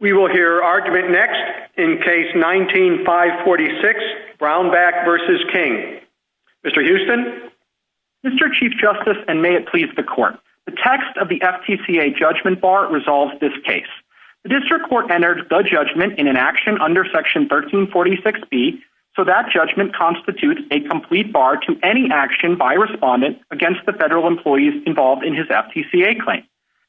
We will hear argument next, in case 19-546, Brownback v. King. Mr. Houston? Mr. Chief Justice, and may it please the Court, the text of the FTCA judgment bar resolves this case. The District Court entered the judgment in an action under Section 1346B, so that judgment constitutes a complete bar to any action by a respondent against the federal employees involved in his FTCA claim.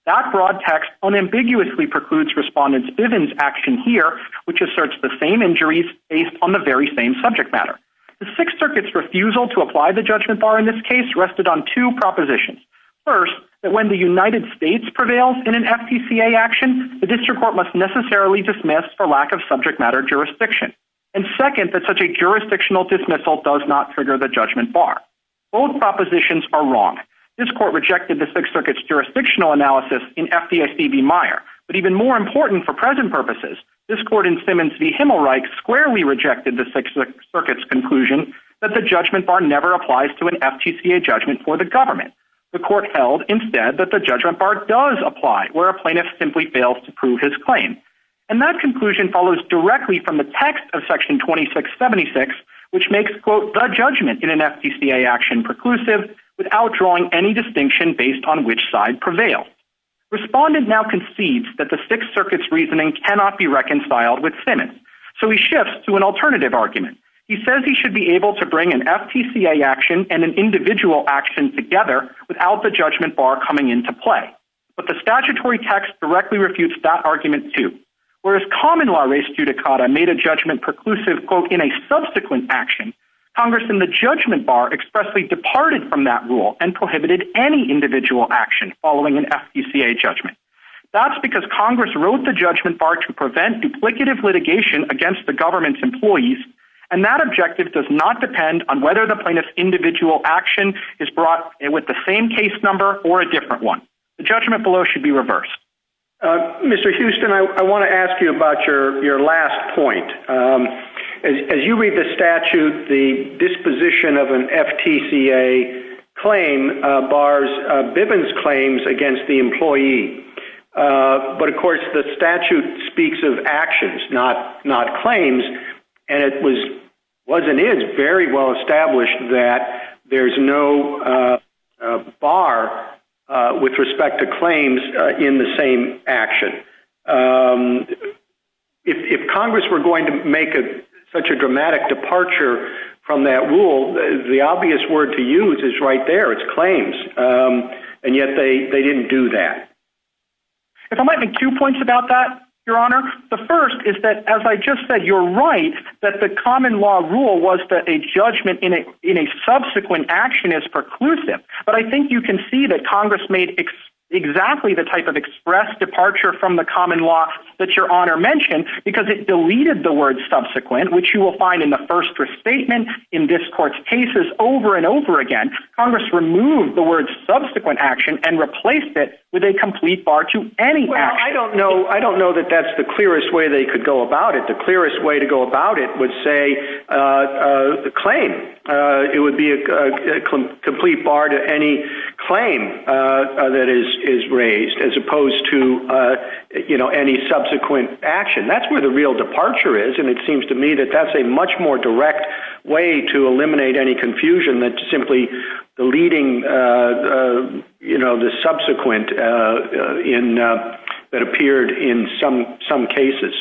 That broad text unambiguously precludes Respondent Bivens' action here, which asserts the same injuries based on the very same subject matter. The Sixth Circuit's refusal to apply the judgment bar in this case rested on two propositions. First, that when the United States prevails in an FTCA action, the District Court must necessarily dismiss for lack of subject matter jurisdiction. And second, that such a jurisdictional dismissal does not trigger the judgment bar. Both propositions are wrong. This Court rejected the Sixth Circuit's jurisdictional analysis in FDIC v. Meyer. But even more important for present purposes, this Court in Simmons v. Himmelreich squarely rejected the Sixth Circuit's conclusion that the judgment bar never applies to an FTCA judgment for the government. The Court held, instead, that the judgment bar does apply, where a plaintiff simply fails to prove his claim. And that conclusion follows directly from the text of Section 2676, which makes, quote, the judgment in an FTCA action preclusive without drawing any distinction based on which side prevails. Respondent now concedes that the Sixth Circuit's reasoning cannot be reconciled with Simmons. So he shifts to an alternative argument. He says he should be able to bring an FTCA action and an individual action together without the judgment bar coming into play. But the statutory text directly refutes that argument, too. Whereas common law res judicata made a judgment preclusive, quote, in a subsequent action, Congress in the judgment bar expressly departed from that rule and prohibited any individual action following an FTCA judgment. That's because Congress wrote the judgment bar to prevent duplicative litigation against the government's employees. And that objective does not depend on whether the plaintiff's individual action is brought with the same case number or a different one. The judgment below should be reversed. Mr. Houston, I want to ask you about your last point. As you read the statute, the disposition of an FTCA claim bars Bivens' claims against the employee. But, of course, the statute speaks of actions, not claims. And it was and is very well established that there's no bar with respect to claims in the same action. If Congress were going to make such a dramatic departure from that rule, the obvious word to use is right there. It's claims. And yet they didn't do that. If I might make two points about that, Your Honor. The first is that, as I just said, you're right that the common law rule was that a judgment in a subsequent action is preclusive. But I think you can see that Congress made exactly the type of express departure from the common law that Your Honor mentioned because it deleted the word subsequent, which you will find in the first restatement, in this court's cases, over and over again. Congress removed the word subsequent action and replaced it with a complete bar to any action. I don't know that that's the clearest way they could go about it. The clearest way to go about it would say claim. It would be a complete bar to any claim that is raised as opposed to any subsequent action. That's where the real departure is, and it seems to me that that's a much more direct way to eliminate any confusion than simply deleting the subsequent that appeared in some cases.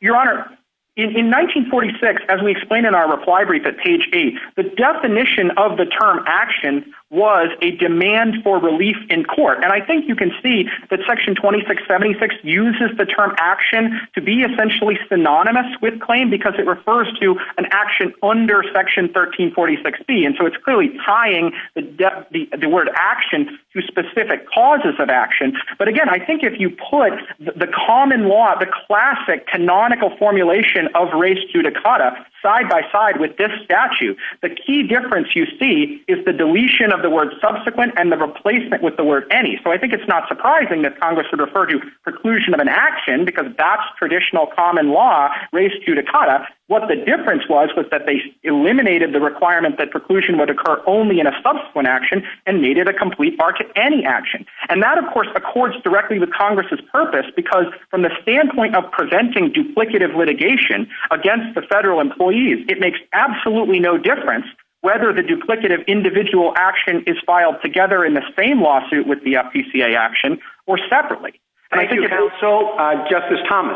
Your Honor, in 1946, as we explained in our reply brief at page 8, the definition of the term action was a demand for relief in court. And I think you can see that Section 2676 uses the term action to be essentially synonymous with claim because it refers to an action under Section 1346B. And so it's clearly tying the word action to specific causes of action. But again, I think if you put the common law, the classic canonical formulation of res judicata side by side with this statute, the key difference you see is the deletion of the word subsequent and the replacement with the word any. So I think it's not surprising that Congress would refer to preclusion of an action because that's traditional common law res judicata. What the difference was was that they eliminated the requirement that preclusion would occur only in a subsequent action and made it a complete bar to any action. And that, of course, accords directly with Congress's purpose because from the standpoint of preventing duplicative litigation against the federal employees, it makes absolutely no difference whether the duplicative individual action is filed together in the same lawsuit with the FTCA action or separately. Thank you, counsel. Justice Thomas.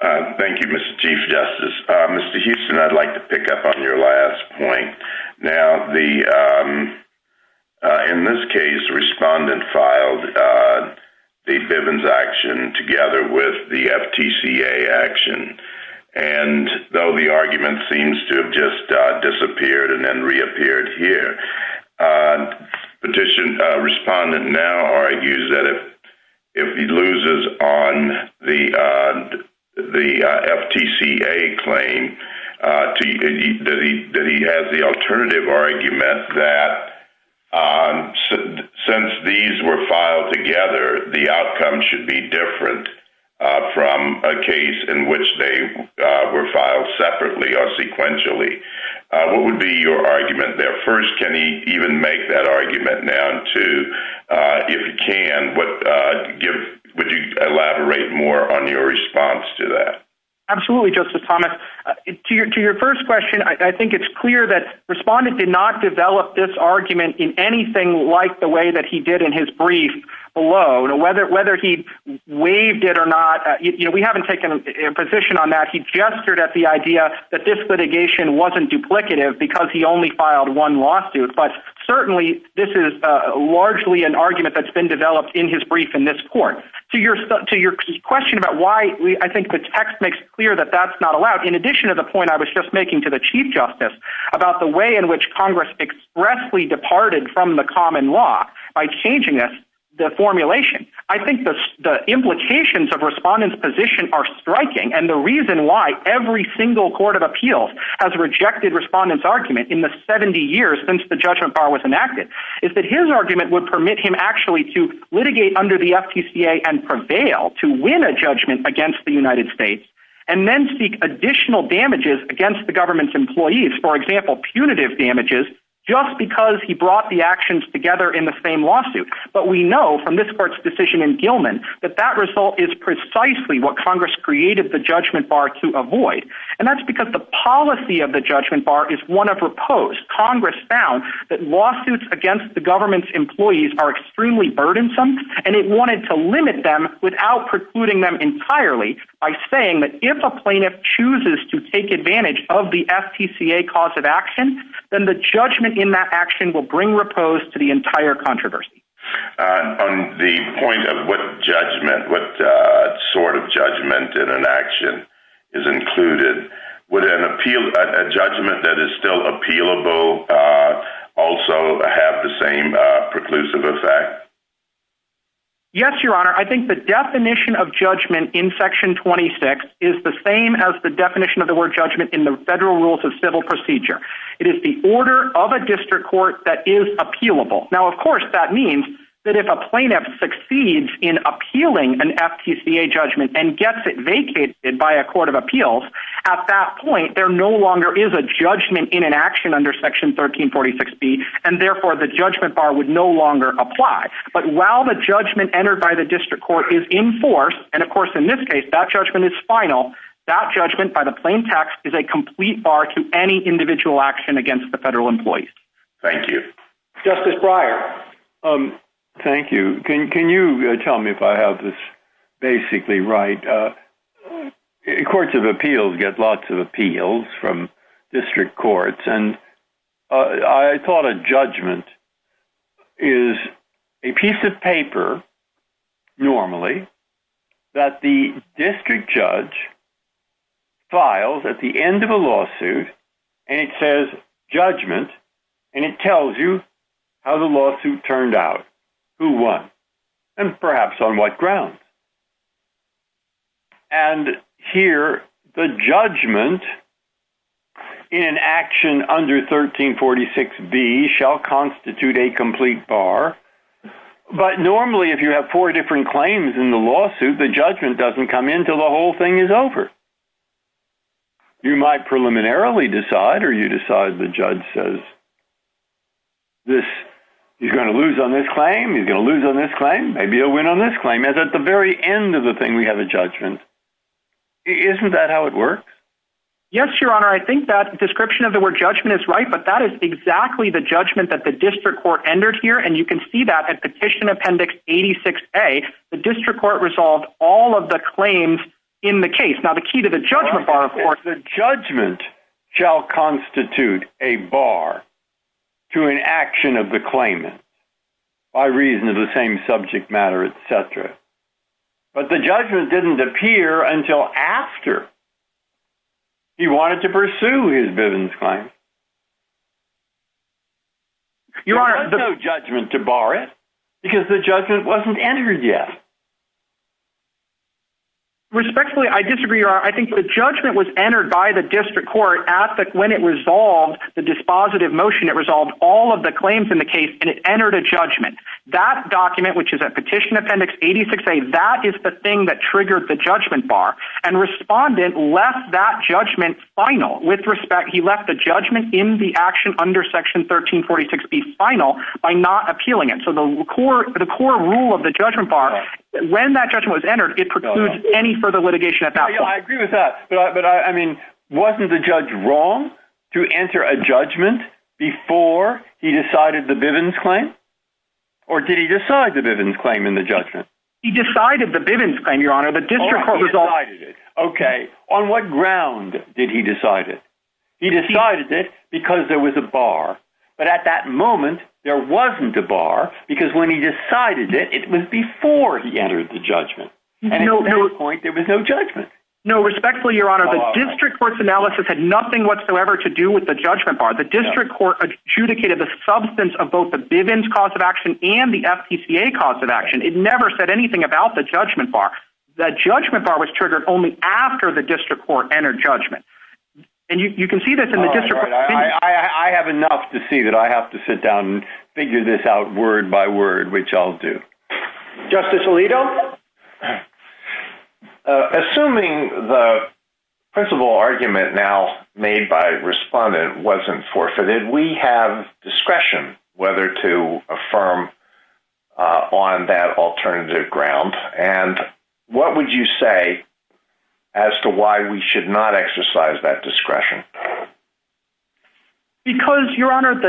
Thank you, Mr. Chief Justice. Mr. Houston, I'd like to pick up on your last point. Now, in this case, the respondent filed the Bivens action together with the FTCA action. And though the argument seems to have just disappeared and then reappeared here, the petition respondent now argues that if he loses on the FTCA claim, that he has the alternative argument that since these were filed together, the outcome should be different from a case in which they were filed separately or sequentially. What would be your argument there? First, can he even make that argument now, too, if he can? Would you elaborate more on your response to that? Absolutely, Justice Thomas. To your first question, I think it's clear that the respondent did not develop this argument in anything like the way that he did in his brief below, whether he waived it or not. We haven't taken a position on that. He gestured at the idea that this litigation wasn't duplicative because he only filed one lawsuit. But certainly this is largely an argument that's been developed in his brief in this court. To your question about why, I think the text makes it clear that that's not allowed. In addition to the point I was just making to the Chief Justice about the way in which Congress expressly departed from the common law by changing the formulation, I think the implications of respondent's position are striking, and the reason why every single court of appeals has rejected respondent's argument in the 70 years since the judgment bar was enacted is that his argument would permit him actually to litigate under the FTCA and prevail to win a judgment against the United States and then seek additional damages against the government's employees, for example, punitive damages, just because he brought the actions together in the same lawsuit. But we know from this court's decision in Gilman that that result is precisely what Congress created the judgment bar to avoid, and that's because the policy of the judgment bar is one of repose. Congress found that lawsuits against the government's employees are extremely burdensome, and it wanted to limit them without precluding them entirely by saying that if a plaintiff chooses to take advantage of the FTCA cause of action, then the judgment in that action will bring repose to the entire controversy. On the point of what judgment, what sort of judgment in an action is included, would a judgment that is still appealable also have the same preclusive effect? Yes, Your Honor. I think the definition of judgment in Section 26 is the same as the definition of the word judgment in the Federal Rules of Civil Procedure. It is the order of a district court that is appealable. Now, of course, that means that if a plaintiff succeeds in appealing an FTCA judgment and gets it vacated by a court of appeals, at that point there no longer is a judgment in an action under Section 1346B, and therefore the judgment bar would no longer apply. But while the judgment entered by the district court is in force, and of course in this case that judgment is final, that judgment by the plaintiff is a complete bar to any individual action against the federal employees. Thank you. Justice Breyer. Thank you. Can you tell me if I have this basically right? Courts of appeals get lots of appeals from district courts, and I thought a judgment is a piece of paper normally that the district judge files at the end of a lawsuit, and it says judgment, and it tells you how the lawsuit turned out, who won, and perhaps on what grounds. And here the judgment in an action under 1346B shall constitute a complete bar, but normally if you have four different claims in the lawsuit, the judgment doesn't come in until the whole thing is over. You might preliminarily decide or you decide the judge says he's going to lose on this claim, he's going to lose on this claim, maybe he'll win on this claim, and at the very end of the thing we have a judgment. Isn't that how it works? Yes, Your Honor. I think that description of the word judgment is right, but that is exactly the judgment that the district court entered here, and you can see that at Petition Appendix 86A, the district court resolved all of the claims in the case. The judgment shall constitute a bar to an action of the claimant by reason of the same subject matter, etc. But the judgment didn't appear until after he wanted to pursue his Bivens claim. There was no judgment to bar it because the judgment wasn't entered yet. Respectfully, I disagree, Your Honor. I think the judgment was entered by the district court when it resolved the dispositive motion. It resolved all of the claims in the case and it entered a judgment. That document, which is at Petition Appendix 86A, that is the thing that triggered the judgment bar, and the respondent left that judgment final. With respect, he left the judgment in the action under Section 1346B final by not appealing it. So the core rule of the judgment bar, when that judgment was entered, it precludes any further litigation at that point. I agree with that, but wasn't the judge wrong to enter a judgment before he decided the Bivens claim? Or did he decide the Bivens claim in the judgment? He decided the Bivens claim, Your Honor. Alright, he decided it. Okay, on what ground did he decide it? He decided it because there was a bar. But at that moment, there wasn't a bar because when he decided it, it was before he entered the judgment. And at this point, there was no judgment. No, respectfully, Your Honor, the district court's analysis had nothing whatsoever to do with the judgment bar. The district court adjudicated the substance of both the Bivens cause of action and the FPCA cause of action. It never said anything about the judgment bar. The judgment bar was triggered only after the district court entered judgment. And you can see this in the district court's opinion. I have enough to see that I have to sit down and figure this out word by word, which I'll do. Justice Alito? Assuming the principal argument now made by respondent wasn't forfeited, we have discretion whether to affirm on that alternative ground. And what would you say as to why we should not exercise that discretion? Because, Your Honor,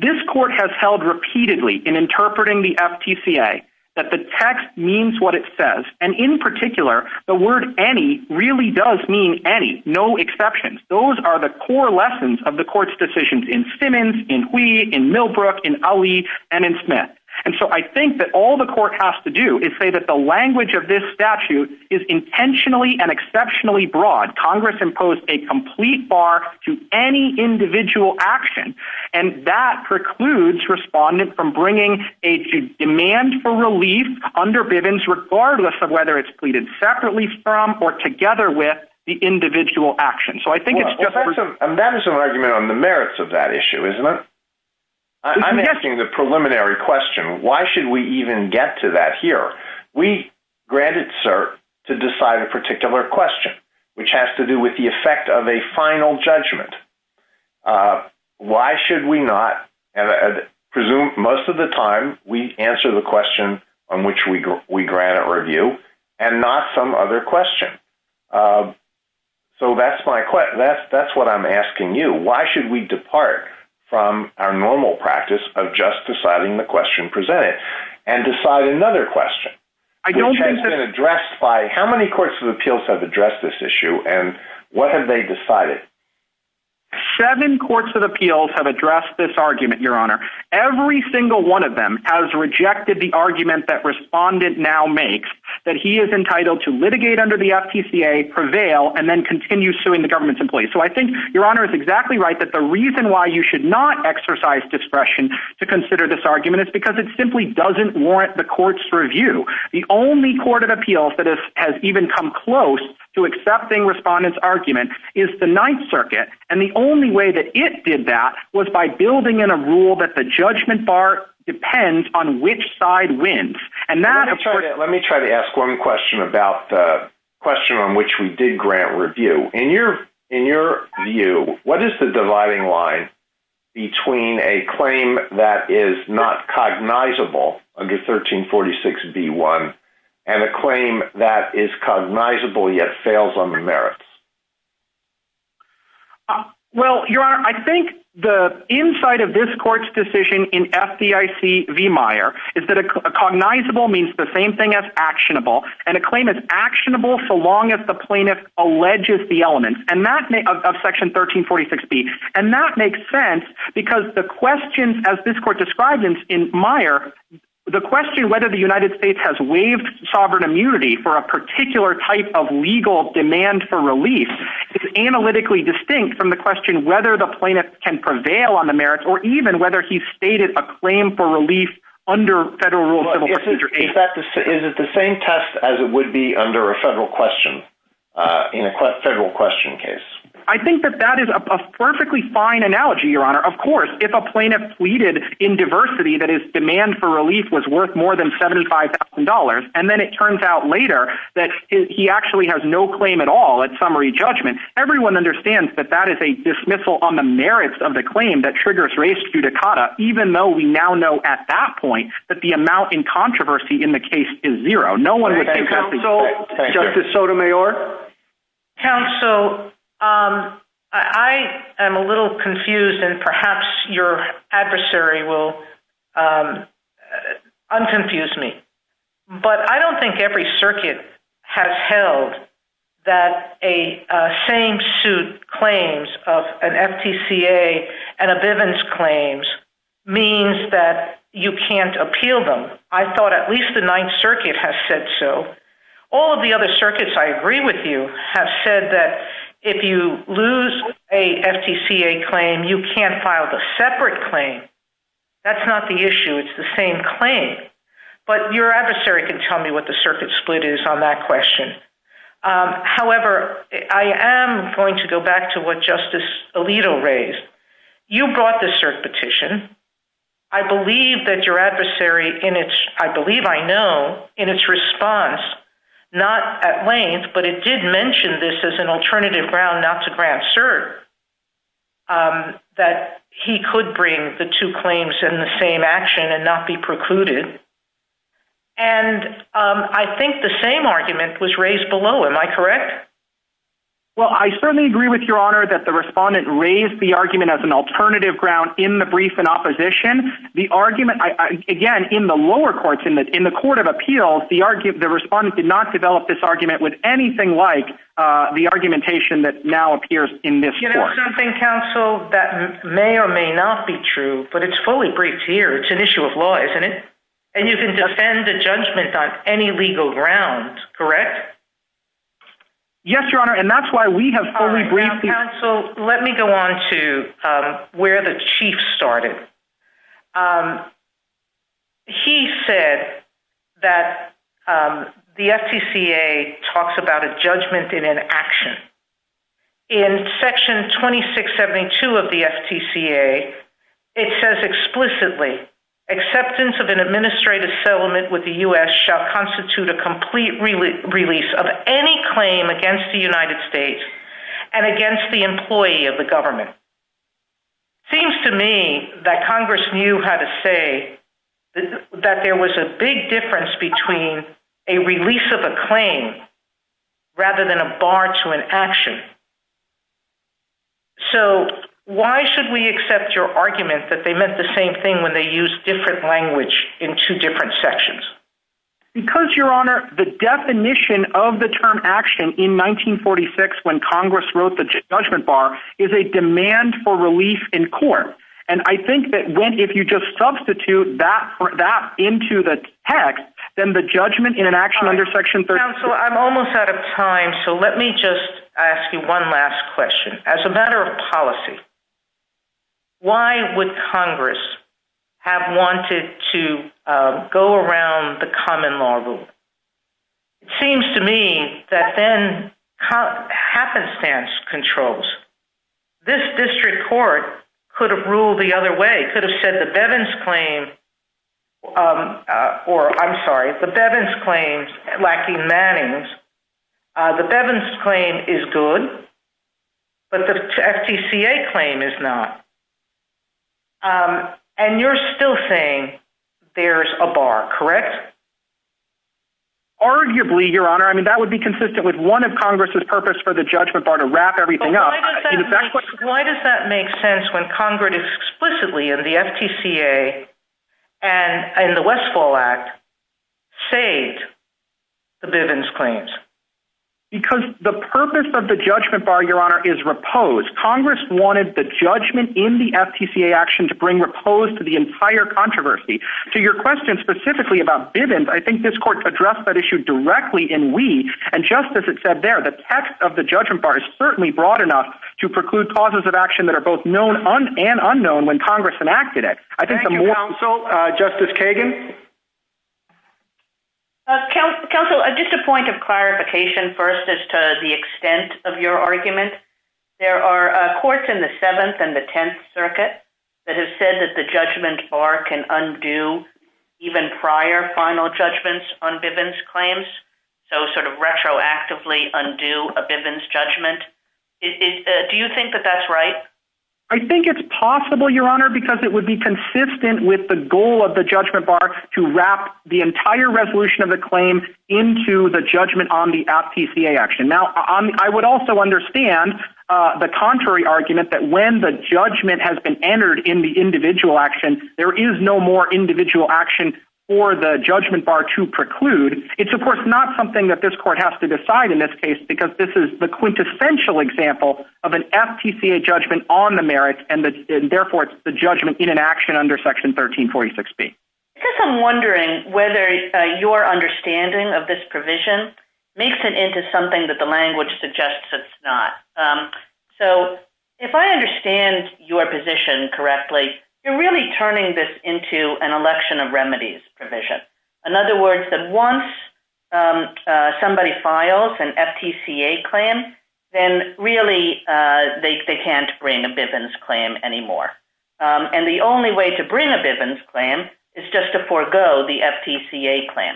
this court has held repeatedly in interpreting the FPCA that the text means what it says. And in particular, the word any really does mean any. No exceptions. Those are the core lessons of the court's decisions in Simmons, in Hui, in Millbrook, in Ali, and in Smith. And so I think that all the court has to do is say that the language of this statute is intentionally and exceptionally broad. Congress imposed a complete bar to any individual action. And that precludes respondent from bringing a demand for relief under Bivens, regardless of whether it's pleaded separately from or together with the individual action. And that is an argument on the merits of that issue, isn't it? I'm asking the preliminary question. Why should we even get to that here? We grant it, sir, to decide a particular question, which has to do with the effect of a final judgment. Why should we not presume most of the time we answer the question on which we grant a review and not some other question? So that's my question. That's what I'm asking you. Why should we depart from our normal practice of just deciding the question presented and decide another question, which has been addressed by how many courts of appeals have addressed this issue? And what have they decided? Seven courts of appeals have addressed this argument, Your Honor. Every single one of them has rejected the argument that respondent now makes that he is entitled to litigate under the FTCA, prevail, and then continue suing the government's employees. So I think Your Honor is exactly right that the reason why you should not exercise discretion to consider this argument is because it simply doesn't warrant the court's review. The only court of appeals that has even come close to accepting respondent's argument is the Ninth Circuit. And the only way that it did that was by building in a rule that the judgment bar depends on which side wins. Let me try to ask one question about the question on which we did grant review. In your view, what is the dividing line between a claim that is not cognizable under 1346B1 and a claim that is cognizable yet fails on the merits? Well, Your Honor, I think the insight of this court's decision in FDIC v. Meyer is that a cognizable means the same thing as actionable. And a claim is actionable so long as the plaintiff alleges the elements of Section 1346B. And that makes sense because the question, as this court described in Meyer, the question whether the United States has waived sovereign immunity for a particular type of legal demand for relief is analytically distinct from the question whether the plaintiff can prevail on the merits or even whether he's stated a claim for relief under Federal Rule of Civil Procedure 8. Is it the same test as it would be under a federal question, in a federal question case? I think that that is a perfectly fine analogy, Your Honor. Of course, if a plaintiff pleaded in diversity that his demand for relief was worth more than $75,000, and then it turns out later that he actually has no claim at all at summary judgment, everyone understands that that is a dismissal on the merits of the claim that triggers res judicata, even though we now know at that point that the amount in controversy in the case is zero. Justice Sotomayor? Counsel, I am a little confused, and perhaps your adversary will unconfuse me. But I don't think every circuit has held that a same-suit claims of an FTCA and a Bivens claims means that you can't appeal them. I thought at least the Ninth Circuit has said so. All of the other circuits I agree with you have said that if you lose a FTCA claim, you can't file the separate claim. That's not the issue. It's the same claim. But your adversary can tell me what the circuit split is on that question. However, I am going to go back to what Justice Alito raised. You brought the cert petition. I believe that your adversary, I believe I know, in its response, not at length, but it did mention this as an alternative ground not to grant cert, that he could bring the two claims in the same action and not be precluded. And I think the same argument was raised below. Am I correct? Well, I certainly agree with Your Honor that the respondent raised the argument as an alternative ground in the brief in opposition. The argument, again, in the lower courts, in the Court of Appeals, the respondent did not develop this argument with anything like the argumentation that now appears in this court. You know something, counsel, that may or may not be true, but it's fully briefed here. It's an issue of law, isn't it? And you can defend a judgment on any legal ground, correct? Yes, Your Honor, and that's why we have fully briefed... Counsel, let me go on to where the Chief started. He said that the FTCA talks about a judgment in an action. In Section 2672 of the FTCA, it says explicitly, acceptance of an administrative settlement with the U.S. shall constitute a complete release of any claim against the United States and against the employee of the government. Seems to me that Congress knew how to say that there was a big difference between a release of a claim rather than a bar to an action. So, why should we accept your argument that they meant the same thing when they used different language in two different sections? Because, Your Honor, the definition of the term action in 1946 when Congress wrote the judgment bar is a demand for relief in court. And I think that if you just substitute that into the text, then the judgment in an action under Section 36... Counsel, I'm almost out of time, so let me just ask you one last question. As a matter of policy, why would Congress have wanted to go around the common law rule? It seems to me that then happenstance controls. This district court could have ruled the other way. It could have said the Bevin's claim, or I'm sorry, the Bevin's claims lacking Manning's. The Bevin's claim is good, but the FTCA claim is not. And you're still saying there's a bar, correct? Arguably, Your Honor. I mean, that would be consistent with one of Congress's purpose for the judgment bar to wrap everything up. Why does that make sense when Congress explicitly in the FTCA and in the Westfall Act saved the Bevin's claims? Because the purpose of the judgment bar, Your Honor, is repose. Congress wanted the judgment in the FTCA action to bring repose to the entire controversy. To your question specifically about Bevin's, I think this court addressed that issue directly in Wee. And just as it said there, the text of the judgment bar is certainly broad enough to preclude causes of action that are both known and unknown when Congress enacted it. Thank you, Counsel. Justice Kagan? Counsel, just a point of clarification first as to the extent of your argument. There are courts in the Seventh and the Tenth Circuit that have said that the judgment bar can undo even prior final judgments on Bevin's claims. So sort of retroactively undo a Bevin's judgment. Do you think that that's right? I think it's possible, Your Honor, because it would be consistent with the goal of the judgment bar to wrap the entire resolution of the claim into the judgment on the FTCA action. Now, I would also understand the contrary argument that when the judgment has been entered in the individual action, there is no more individual action for the judgment bar to preclude. It's of course not something that this court has to decide in this case because this is the quintessential example of an FTCA judgment on the merits and therefore it's the judgment in an action under Section 1346B. I guess I'm wondering whether your understanding of this provision makes it into something that the language suggests it's not. So if I understand your position correctly, you're really turning this into an election of remedies provision. In other words, that once somebody files an FTCA claim, then really they can't bring a Bevin's claim anymore. And the only way to bring a Bevin's claim is just to forego the FTCA claim.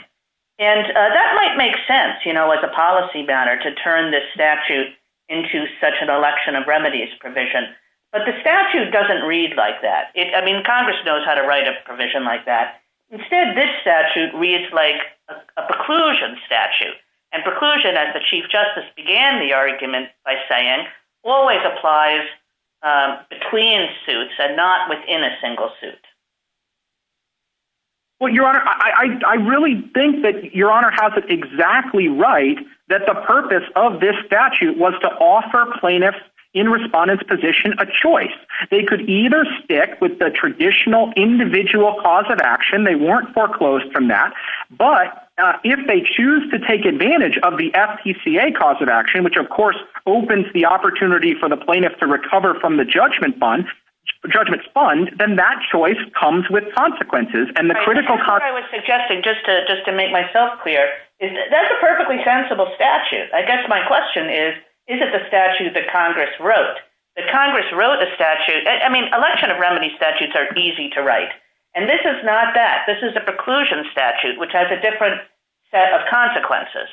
And that might make sense, you know, as a policy matter to turn this statute into such an election of remedies provision. But the statute doesn't read like that. I mean, Congress knows how to write a provision like that. Instead, this statute reads like a preclusion statute. And preclusion, as the Chief Justice began the argument by saying, always applies between suits and not within a single suit. Well, Your Honor, I really think that Your Honor has it exactly right that the purpose of this statute was to offer plaintiffs in respondent's position a choice. They could either stick with the traditional individual cause of action. They weren't foreclosed from that. But if they choose to take advantage of the FTCA cause of action, which, of course, opens the opportunity for the plaintiff to recover from the judgment fund, then that choice comes with consequences. And the critical consequence... I was suggesting, just to make myself clear, that's a perfectly sensible statute. I guess my question is, is it the statute that Congress wrote? The Congress wrote a statute. I mean, election of remedies statutes are easy to write. And this is not that. This is a preclusion statute, which has a different set of consequences.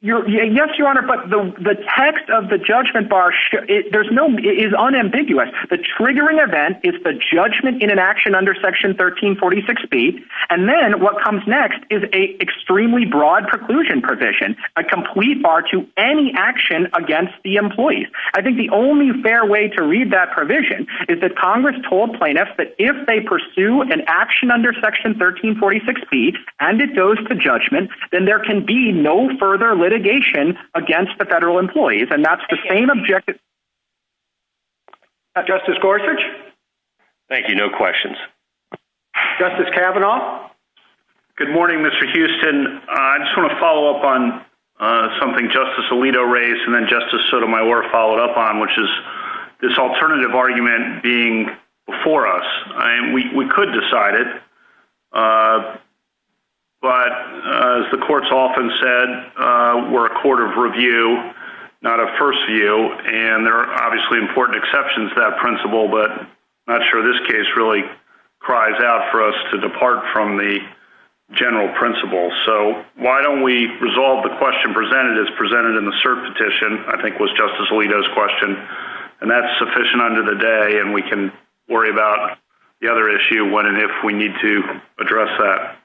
Yes, Your Honor, but the text of the judgment bar is unambiguous. The triggering event is the judgment in an action under Section 1346B. And then what comes next is an extremely broad preclusion provision, a complete bar to any action against the employees. I think the only fair way to read that provision is that Congress told plaintiffs that if they pursue an action under Section 1346B and it goes to judgment, then there can be no further litigation against the federal employees. And that's the same objective. Justice Gorsuch? Thank you. No questions. Justice Kavanaugh? Good morning, Mr. Houston. I just want to follow up on something Justice Alito raised and then Justice Sotomayor followed up on, which is this alternative argument being before us. We could decide it, but as the courts often said, we're a court of review, not a first view. And there are obviously important exceptions to that principle, but I'm not sure this case really cries out for us to depart from the general principle. So why don't we resolve the question presented as presented in the cert petition, I think was Justice Alito's question, and that's sufficient under the day and we can worry about the other issue when and if we need to address that.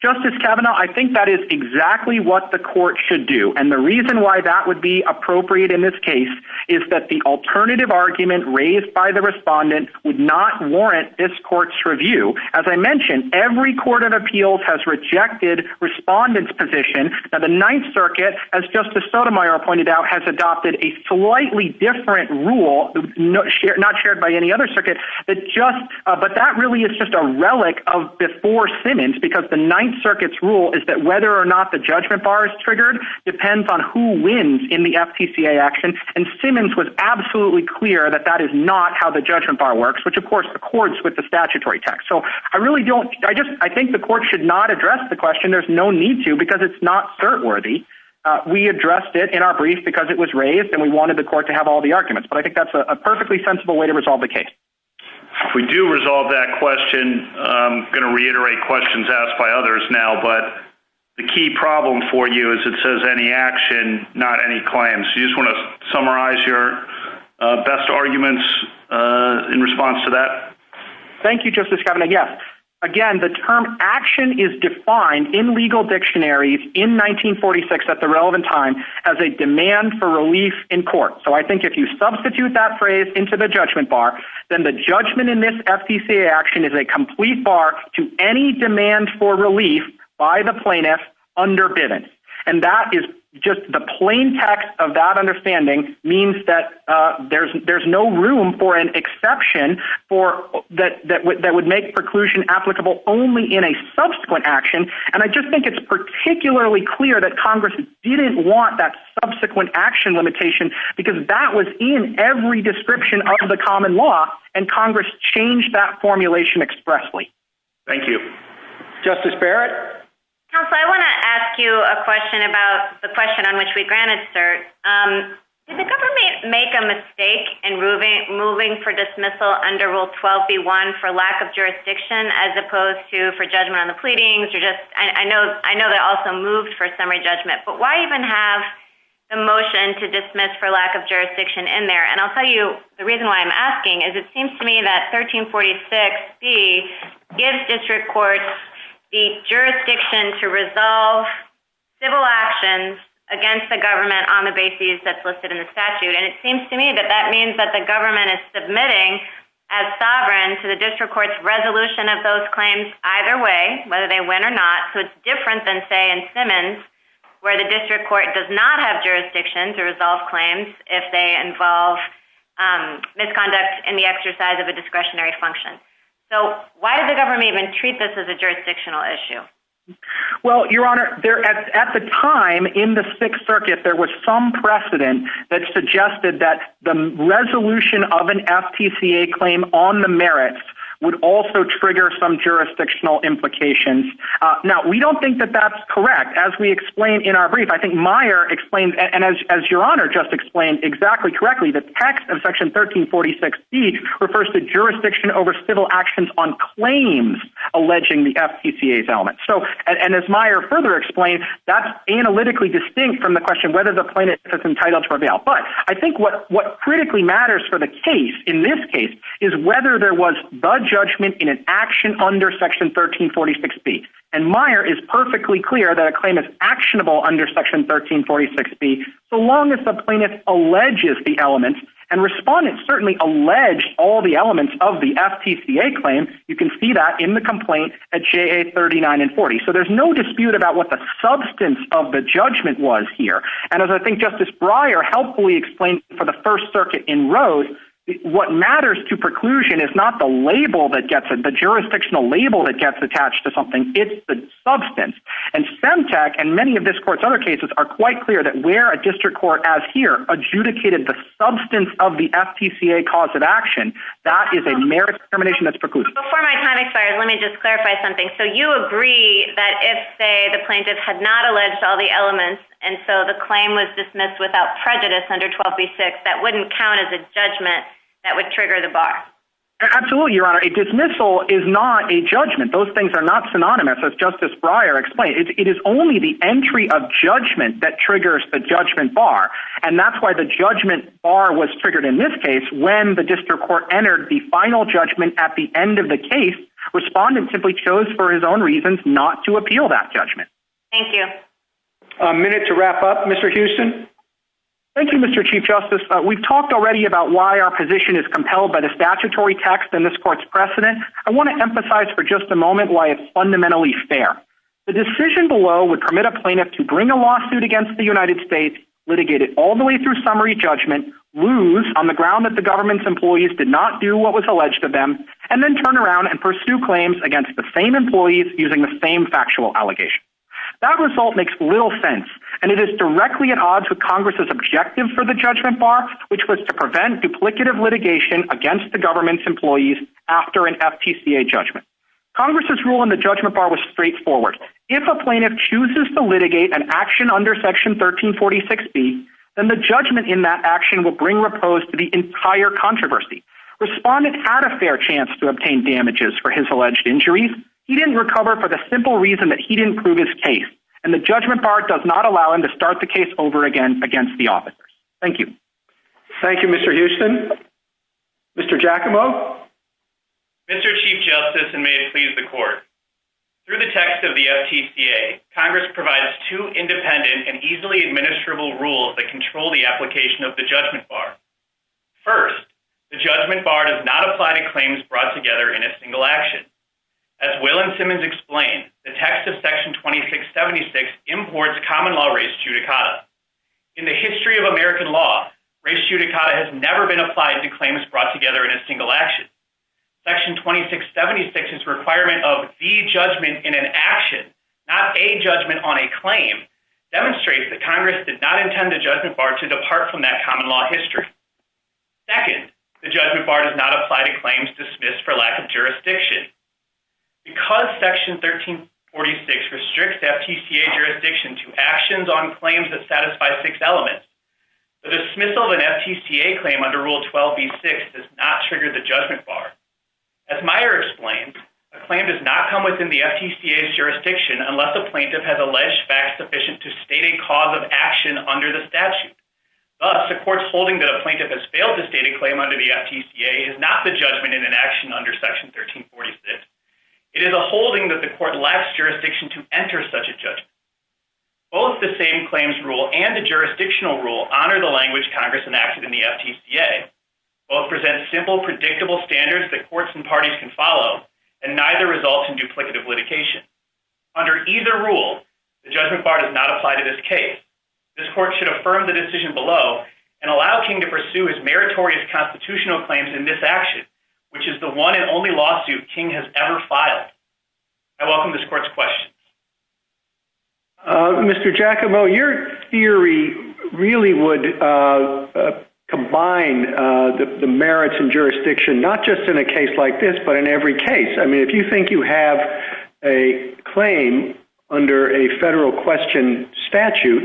Justice Kavanaugh, I think that is exactly what the court should do. And the reason why that would be appropriate in this case is that the alternative argument raised by the respondent would not warrant this court's review. As I mentioned, every court of appeals has rejected respondents' position that the Ninth Circuit, as Justice Sotomayor pointed out, has adopted a slightly different rule, not shared by any other circuit, but that really is just a relic of before sentence because the Ninth Circuit's rule is that whether or not the judgment bar is triggered depends on who wins in the FTCA action. And Simmons was absolutely clear that that is not how the judgment bar works, which of course accords with the statutory text. So I really don't, I just, I think the court should not address the question. There's no need to because it's not cert worthy. We addressed it in our brief because it was raised and we wanted the court to have all the arguments, but I think that's a perfectly sensible way to resolve the case. If we do resolve that question, I'm going to reiterate questions asked by others now, but the key problem for you is it says any action, not any claims. Do you just want to summarize your best arguments in response to that? Thank you, Justice Kavanaugh. Yes. Again, the term action is defined in legal dictionaries in 1946 at the relevant time as a demand for relief in court. So I think if you substitute that phrase into the judgment bar, then the judgment in this FTCA action is a complete bar to any demand for relief by the plaintiff under Bivens. And that is just the plain text of that understanding means that there's no room for an exception for that, that would make preclusion applicable only in a subsequent action. And I just think it's particularly clear that Congress didn't want that subsequent action limitation because that was in every description of the common law and Congress changed that formulation expressly. Thank you. Justice Barrett. Counsel, I want to ask you a question about the question on which we granted cert. Did the government make a mistake in moving for dismissal under Rule 12B1 for lack of jurisdiction as opposed to for judgment on the pleadings? I know they also moved for summary judgment, but why even have the motion to dismiss for lack of jurisdiction in there? And I'll tell you the reason why I'm asking is it seems to me that 1346B gives district courts the jurisdiction to resolve civil actions against the government on the basis that's listed in the statute. And it seems to me that that means that the government is submitting as sovereign to the district court's resolution of those claims either way, whether they win or not. So it's different than, say, in Simmons where the district court does not have jurisdiction to resolve claims if they involve misconduct in the exercise of a discretionary function. So why did the government even treat this as a jurisdictional issue? Well, Your Honor, at the time in the Sixth Circuit, there was some precedent that suggested that the resolution of an FTCA claim on the merits would also trigger some jurisdictional implications. Now, we don't think that that's correct. In fact, as we explained in our brief, I think Meyer explained, and as Your Honor just explained exactly correctly, the text of Section 1346B refers to jurisdiction over civil actions on claims alleging the FTCA's element. And as Meyer further explained, that's analytically distinct from the question whether the plaintiff is entitled to reveal. But I think what critically matters for the case in this case is whether there was the judgment in an action under Section 1346B. And Meyer is perfectly clear that a claim is actionable under Section 1346B so long as the plaintiff alleges the element. And respondents certainly allege all the elements of the FTCA claim. You can see that in the complaint at J.A. 39 and 40. So there's no dispute about what the substance of the judgment was here. And as I think Justice Breyer helpfully explained for the First Circuit in Rhodes, what matters to preclusion is not the label that gets it, the jurisdictional label that gets attached to something. It's the substance. And SEMTEC and many of this Court's other cases are quite clear that where a district court, as here, adjudicated the substance of the FTCA cause of action, that is a merits determination that's preclusion. Before my time expires, let me just clarify something. So you agree that if, say, the plaintiff had not alleged all the elements and so the claim was dismissed without prejudice under 12B6, that wouldn't count as a judgment that would trigger the bar? Absolutely, Your Honor. A dismissal is not a judgment. Those things are not synonymous, as Justice Breyer explained. It is only the entry of judgment that triggers the judgment bar. And that's why the judgment bar was triggered in this case when the district court entered the final judgment at the end of the case. Respondent simply chose for his own reasons not to appeal that judgment. Thank you. A minute to wrap up. Mr. Houston? Thank you, Mr. Chief Justice. We've talked already about why our position is compelled by the statutory text and this Court's precedent. I want to emphasize for just a moment why it's fundamentally fair. The decision below would permit a plaintiff to bring a lawsuit against the United States, litigate it all the way through summary judgment, lose on the ground that the government's employees did not do what was alleged to them, and then turn around and pursue claims against the same employees using the same factual allegation. That result makes little sense, and it is directly at odds with Congress's objective for the judgment bar, which was to prevent duplicative litigation against the government's employees after an FTCA judgment. Congress's rule in the judgment bar was straightforward. If a plaintiff chooses to litigate an action under Section 1346B, then the judgment in that action will bring repose to the entire controversy. Respondent had a fair chance to obtain damages for his alleged injuries. He didn't recover for the simple reason that he didn't prove his case, and the judgment bar does not allow him to start the case over again against the officers. Thank you. Thank you, Mr. Houston. Mr. Giacomo? Mr. Chief Justice, and may it please the Court, through the text of the FTCA, Congress provides two independent and easily administrable rules that control the application of the judgment bar. First, the judgment bar does not apply to claims brought together in a single action. As Will and Simmons explained, the text of Section 2676 imports common law res judicata. In the history of American law, res judicata has never been applied to claims brought together in a single action. Section 2676's requirement of the judgment in an action, not a judgment on a claim, demonstrates that Congress did not intend the judgment bar to depart from that common law history. Second, the judgment bar does not apply to claims dismissed for lack of jurisdiction. Because Section 1346 restricts FTCA jurisdiction to actions on claims that satisfy six elements, the dismissal of an FTCA claim under Rule 12b-6 does not trigger the judgment bar. As Meyer explained, a claim does not come within the FTCA's jurisdiction unless a plaintiff has alleged facts sufficient to state a cause of action under the statute. Thus, a court's holding that a plaintiff has failed to state a claim under the FTCA is not the judgment in an action under Section 1346. It is a holding that the court lacks jurisdiction to enter such a judgment. Both the same claims rule and the jurisdictional rule honor the language Congress enacted in the FTCA. Both present simple, predictable standards that courts and parties can follow, and neither result in duplicative litigation. Under either rule, the judgment bar does not apply to this case. This court should affirm the decision below and allow King to pursue his meritorious constitutional claims in this action, which is the one and only lawsuit King has ever filed. I welcome this court's questions. Mr. Giacomo, your theory really would combine the merits and jurisdiction, not just in a case like this, but in every case. I mean, if you think you have a claim under a federal question statute,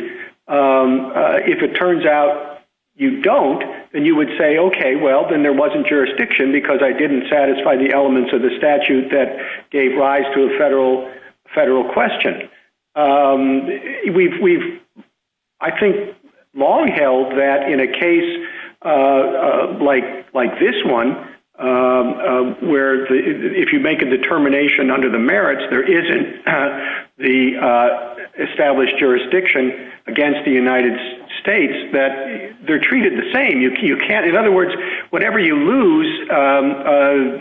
if it turns out you don't, then you would say, okay, well, then there wasn't jurisdiction because I didn't satisfy the elements of the statute that gave rise to a federal question. We've, I think, long held that in a case like this one, where if you make a determination under the merits, there isn't the established jurisdiction against the United States, that they're treated the same. In other words, whatever you lose,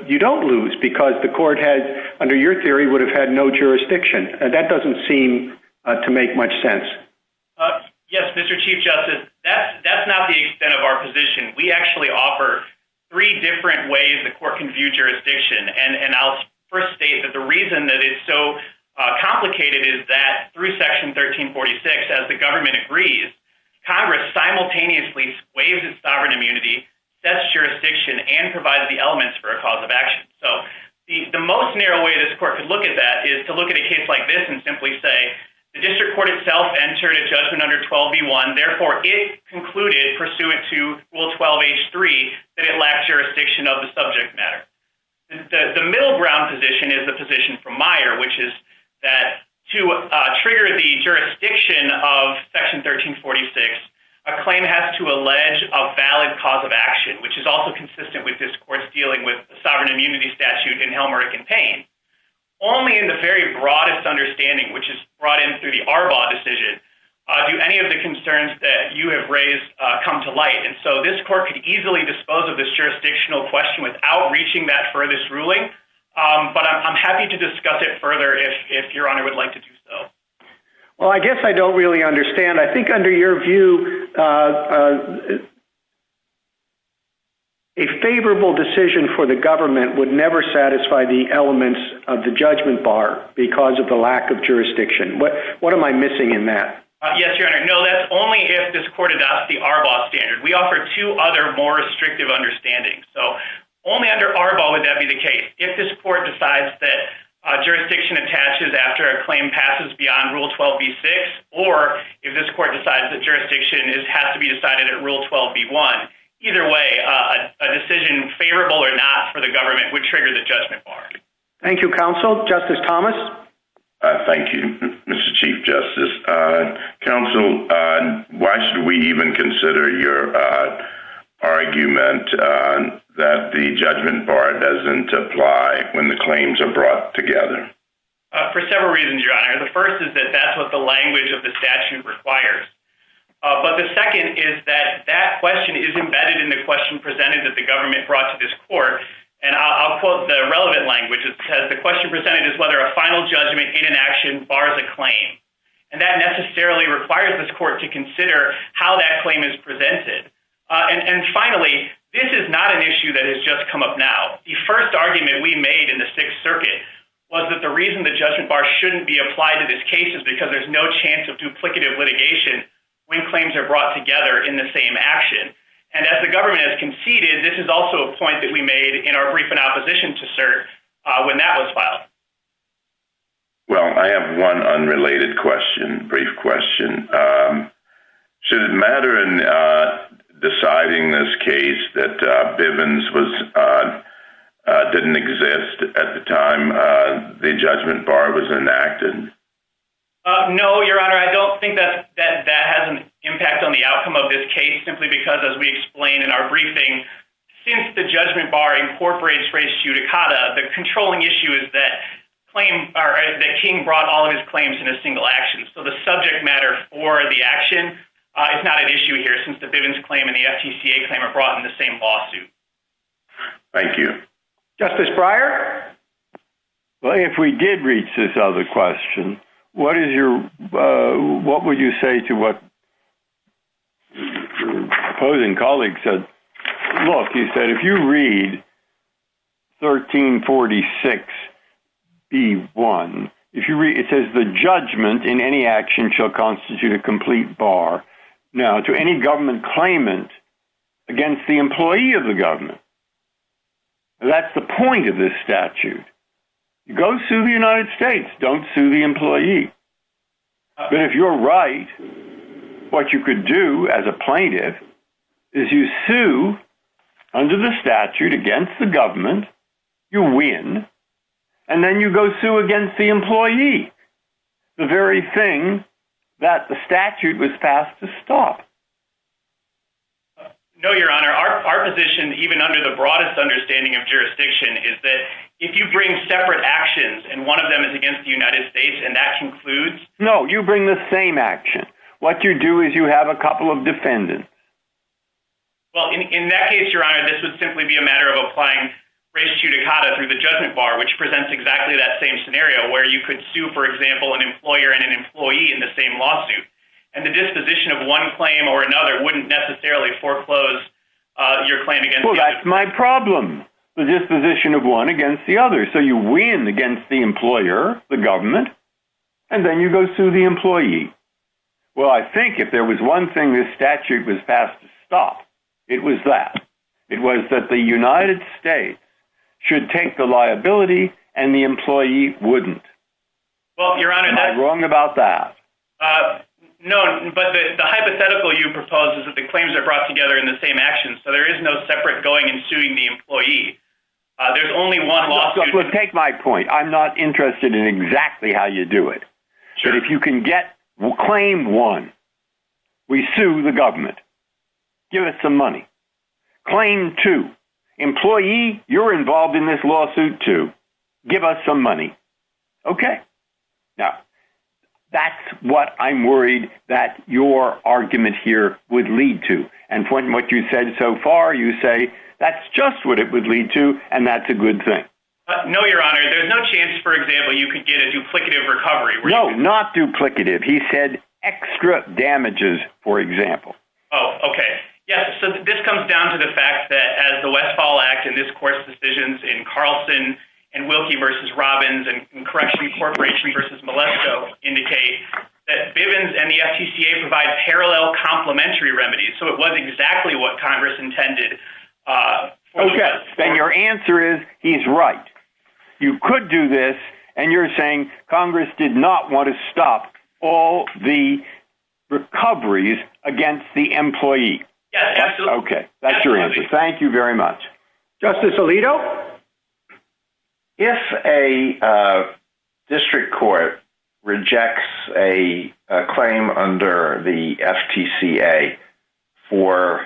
you don't lose because the court had, under your theory, would have had no jurisdiction. That doesn't seem to make much sense. Yes, Mr. Chief Justice. That's not the extent of our position. We actually offer three different ways the court can view jurisdiction. I'll first state that the reason that it's so complicated is that through Section 1346, as the government agrees, Congress simultaneously waives its sovereign immunity, sets jurisdiction, and provides the elements for a cause of action. The most narrow way this court could look at that is to look at a case like this and simply say, the district court itself entered a judgment under 12b1. Therefore, it concluded, pursuant to Rule 12H3, that it lacked jurisdiction of the subject matter. The middle ground position is the position from Meyer, which is that to trigger the jurisdiction of Section 1346, a claim has to allege a valid cause of action, which is also consistent with this court's dealing with the sovereign immunity statute in Helmerick and Payne. Only in the very broadest understanding, which is brought in through the Arbaugh decision, do any of the concerns that you have raised come to light. This court could easily dispose of this jurisdictional question without reaching that furthest ruling, but I'm happy to discuss it further if Your Honor would like to do so. Well, I guess I don't really understand. I think under your view, a favorable decision for the government would never satisfy the elements of the judgment bar because of the lack of jurisdiction. What am I missing in that? Yes, Your Honor. No, that's only if this court adopts the Arbaugh standard. We offer two other more restrictive understandings. So, only under Arbaugh would that be the case. If this court decides that jurisdiction attaches after a claim passes beyond Rule 12b6, or if this court decides that jurisdiction has to be decided at Rule 12b1, either way, a decision favorable or not for the government would trigger the judgment bar. Thank you, Counsel. Justice Thomas? Thank you, Mr. Chief Justice. Counsel, why should we even consider your argument that the judgment bar doesn't apply when the claims are brought together? For several reasons, Your Honor. The first is that that's what the language of the statute requires. But the second is that that question is embedded in the question presented that the government brought to this court, and I'll quote the relevant language. It says, the question presented is whether a final judgment in an action bars a claim. And that necessarily requires this court to consider how that claim is presented. And finally, this is not an issue that has just come up now. The first argument we made in the Sixth Circuit was that the reason the judgment bar shouldn't be applied to this case is because there's no chance of duplicative litigation when claims are brought together in the same action. And as the government has conceded, this is also a point that we made in our brief in opposition to cert when that was filed. Well, I have one unrelated question, brief question. Should it matter in deciding this case that Bivens didn't exist at the time the judgment bar was enacted? No, Your Honor. I don't think that that has an impact on the outcome of this case, simply because, as we explained in our briefing, since the judgment bar incorporates res judicata, the controlling issue is that King brought all of his claims in a single action. So the subject matter for the action is not an issue here, since the Bivens claim and the FTCA claim are brought in the same lawsuit. Thank you. Justice Breyer? Well, if we did reach this other question, what would you say to what your opposing colleague said? Look, he said, if you read 1346B1, it says the judgment in any action shall constitute a complete bar. Now, to any government claimant against the employee of the government. That's the point of this statute. You go sue the United States, don't sue the employee. But if you're right, what you could do as a plaintiff is you sue under the statute against the government, you win, and then you go sue against the employee. The very thing that the statute was passed to stop. No, Your Honor. Our position, even under the broadest understanding of jurisdiction, is that if you bring separate actions, and one of them is against the United States, and that concludes… No, you bring the same action. What you do is you have a couple of defendants. Well, in that case, Your Honor, this would simply be a matter of applying res judicata through the judgment bar, which presents exactly that same scenario, where you could sue, for example, an employer and an employee in the same lawsuit. And the disposition of one claim or another wouldn't necessarily foreclose your claim against… Well, that's my problem. The disposition of one against the other. So you win against the employer, the government, and then you go sue the employee. Well, I think if there was one thing this statute was passed to stop, it was that. It was that the United States should take the liability, and the employee wouldn't. Well, Your Honor, that's… Am I wrong about that? No, but the hypothetical you propose is that the claims are brought together in the same action, so there is no separate going and suing the employee. There's only one lawsuit… Look, take my point. I'm not interested in exactly how you do it. But if you can get claim one, we sue the government. Give us some money. Claim two, employee, you're involved in this lawsuit too. Give us some money. Okay. Now, that's what I'm worried that your argument here would lead to. And from what you've said so far, you say that's just what it would lead to, and that's a good thing. No, Your Honor. There's no chance, for example, you could get a duplicative recovery. No, not duplicative. He said extra damages, for example. Oh, okay. Yes, so this comes down to the fact that as the Westfall Act and this court's decisions in Carlson and Wilkie v. Robbins and Correction Corporation v. Molesto indicate that Bivens and the FTCA provide parallel complementary remedies, so it was exactly what Congress intended. Okay. Then your answer is he's right. You could do this, and you're saying Congress did not want to stop all the recoveries against the employee. Yes, absolutely. Okay. That's your answer. Thank you very much. Justice Alito? If a district court rejects a claim under the FTCA for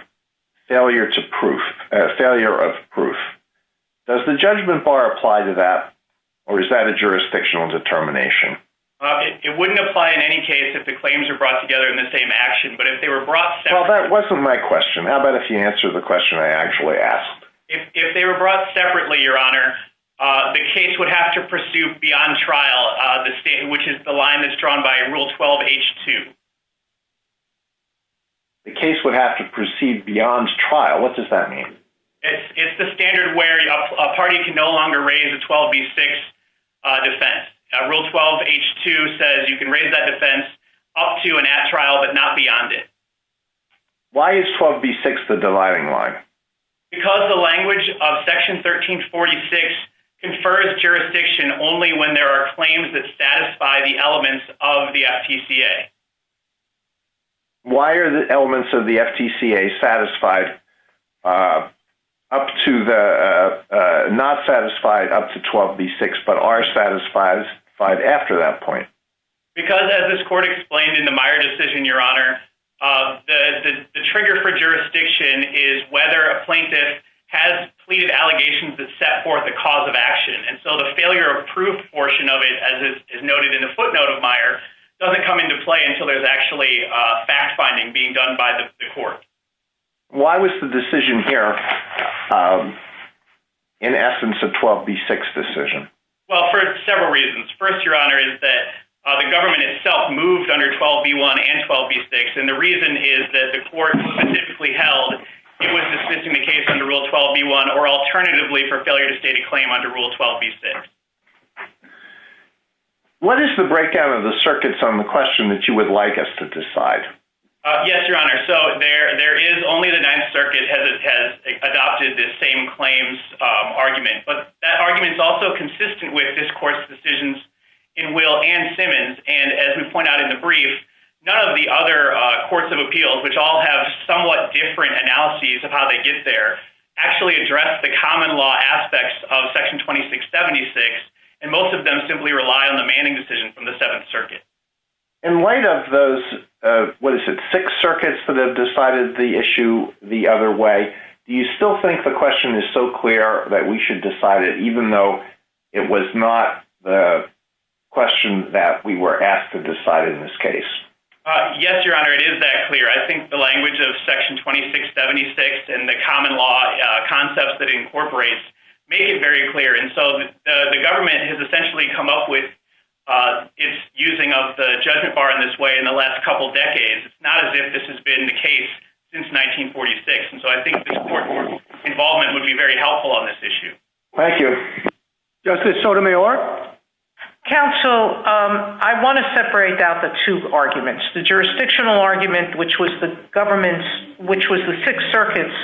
failure of proof, does the judgment bar apply to that, or is that a jurisdictional determination? It wouldn't apply in any case if the claims are brought together in the same action, but if they were brought separately… Well, that wasn't my question. How about if you answer the question I actually asked? If they were brought separately, Your Honor, the case would have to pursue beyond trial, which is the line that's drawn by Rule 12H2. The case would have to proceed beyond trial? What does that mean? It's the standard where a party can no longer raise a 12B6 defense. Rule 12H2 says you can raise that defense up to and at trial, but not beyond it. Why is 12B6 the dividing line? Because the language of Section 1346 confers jurisdiction only when there are claims that satisfy the elements of the FTCA. Why are the elements of the FTCA not satisfied up to 12B6, but are satisfied after that point? Because, as this Court explained in the Meyer decision, Your Honor, the trigger for jurisdiction is whether a plaintiff has pleaded allegations that set forth a cause of action. And so the failure of proof portion of it, as is noted in the footnote of Meyer, doesn't come into play until there's actually fact-finding being done by the Court. Why was the decision here, in essence, a 12B6 decision? Well, for several reasons. First, Your Honor, is that the government itself moved under 12B1 and 12B6. And the reason is that the Court specifically held it was dismissing the case under Rule 12B1 or alternatively for failure to state a claim under Rule 12B6. What is the breakdown of the circuits on the question that you would like us to decide? Yes, Your Honor. So there is only the Ninth Circuit has adopted this same claims argument. But that argument is also consistent with this Court's decisions in Will and Simmons. And as we point out in the brief, none of the other courts of appeals, which all have somewhat different analyses of how they get there, actually address the common law aspects of Section 2676. And most of them simply rely on the Manning decision from the Seventh Circuit. In light of those, what is it, six circuits that have decided the issue the other way, do you still think the question is so clear that we should decide it, even though it was not the question that we were asked to decide in this case? Yes, Your Honor, it is that clear. I think the language of Section 2676 and the common law concepts that it incorporates make it very clear. And so the government has essentially come up with its using of the judgment bar in this way in the last couple decades. It's not as if this has been the case since 1946. And so I think this Court's involvement would be very helpful on this issue. Thank you. Justice Sotomayor? Counsel, I want to separate out the two arguments. The jurisdictional argument, which was the government's, which was the Sixth Circuit's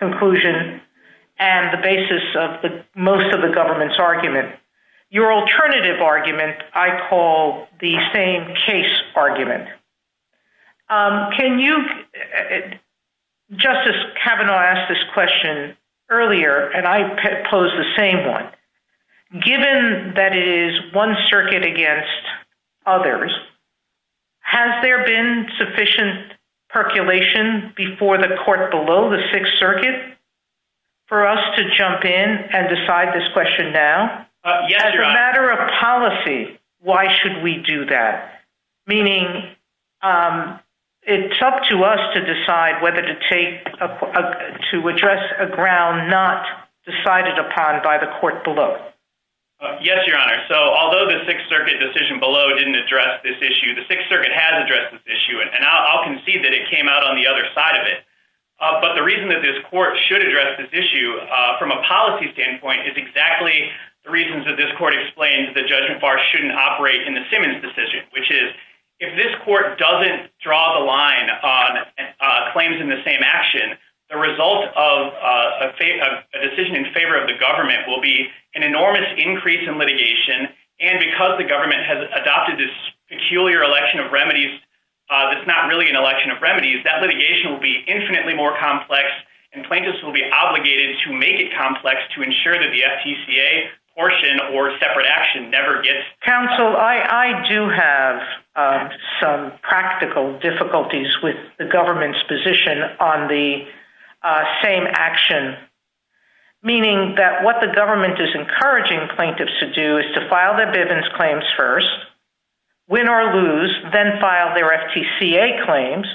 conclusion and the basis of most of the government's argument. Your alternative argument I call the same case argument. Justice Kavanaugh asked this question earlier, and I pose the same one. Given that it is one circuit against others, has there been sufficient percolation before the court below the Sixth Circuit for us to jump in and decide this question now? Yes, Your Honor. As a matter of policy, why should we do that? Meaning it's up to us to decide whether to take, to address a ground not decided upon by the court below. Yes, Your Honor. So although the Sixth Circuit decision below didn't address this issue, the Sixth Circuit has addressed this issue, and I'll concede that it came out on the other side of it. But the reason that this court should address this issue from a policy standpoint is exactly the reasons that this court explained the judgment bar shouldn't operate in the Simmons decision, which is if this court doesn't draw the line on claims in the same action, the result of a decision in favor of the government will be an enormous increase in litigation, and because the government has adopted this peculiar election of remedies that's not really an election of remedies, that litigation will be infinitely more complex, and plaintiffs will be obligated to make it complex to ensure that the FTCA portion or separate action never gets... Counsel, I do have some practical difficulties with the government's position on the same action, meaning that what the government is encouraging plaintiffs to do is to file their Bivens claims first, win or lose, then file their FTCA claims,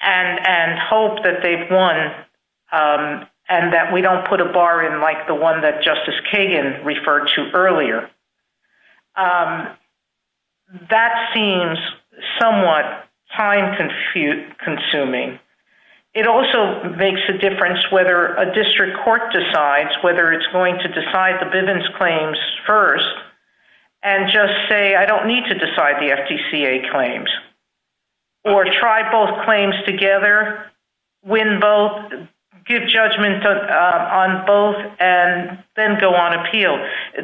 and hope that they've won and that we don't put a bar in like the one that Justice Kagan referred to earlier. That seems somewhat time-consuming. It also makes a difference whether a district court decides whether it's going to decide the Bivens claims first and just say, I don't need to decide the FTCA claims, or try both claims together, win both, give judgment on both, and then go on appeal.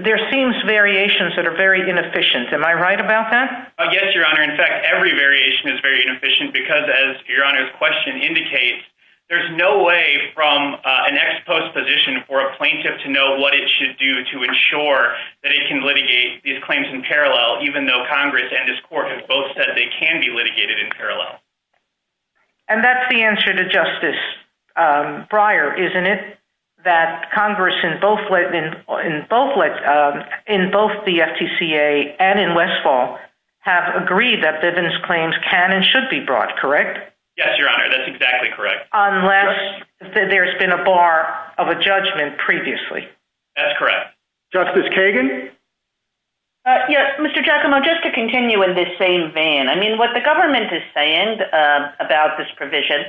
There seems variations that are very inefficient. Am I right about that? Yes, Your Honor. In fact, every variation is very inefficient because, as Your Honor's question indicates, there's no way from an ex-post position for a plaintiff to know what it should do to ensure that it can litigate these claims in parallel, even though Congress and this court have both said they can be litigated in parallel. And that's the answer to Justice Breyer, isn't it? That Congress in both the FTCA and in Westfall have agreed that Bivens claims can and should be brought, correct? Yes, Your Honor, that's exactly correct. Unless there's been a bar of a judgment previously. That's correct. Justice Kagan? Yes, Mr. Giacomo, just to continue in this same vein. I mean, what the government is saying about this provision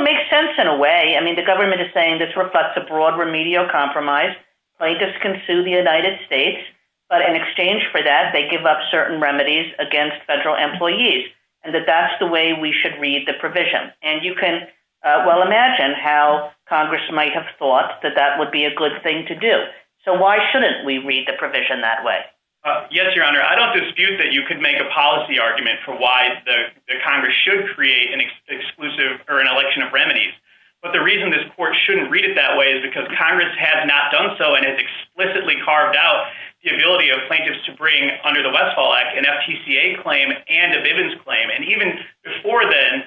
makes sense in a way. I mean, the government is saying this reflects a broad remedial compromise. Plaintiffs can sue the United States, but in exchange for that, they give up certain remedies against federal employees, and that that's the way we should read the provision. And you can well imagine how Congress might have thought that that would be a good thing to do. So why shouldn't we read the provision that way? Yes, Your Honor, I don't dispute that you could make a policy argument for why the Congress should create an exclusive or an election of remedies. But the reason this court shouldn't read it that way is because Congress has not done so, and it's explicitly carved out the ability of plaintiffs to bring under the Westfall Act an FTCA claim and a Bivens claim. And even before then,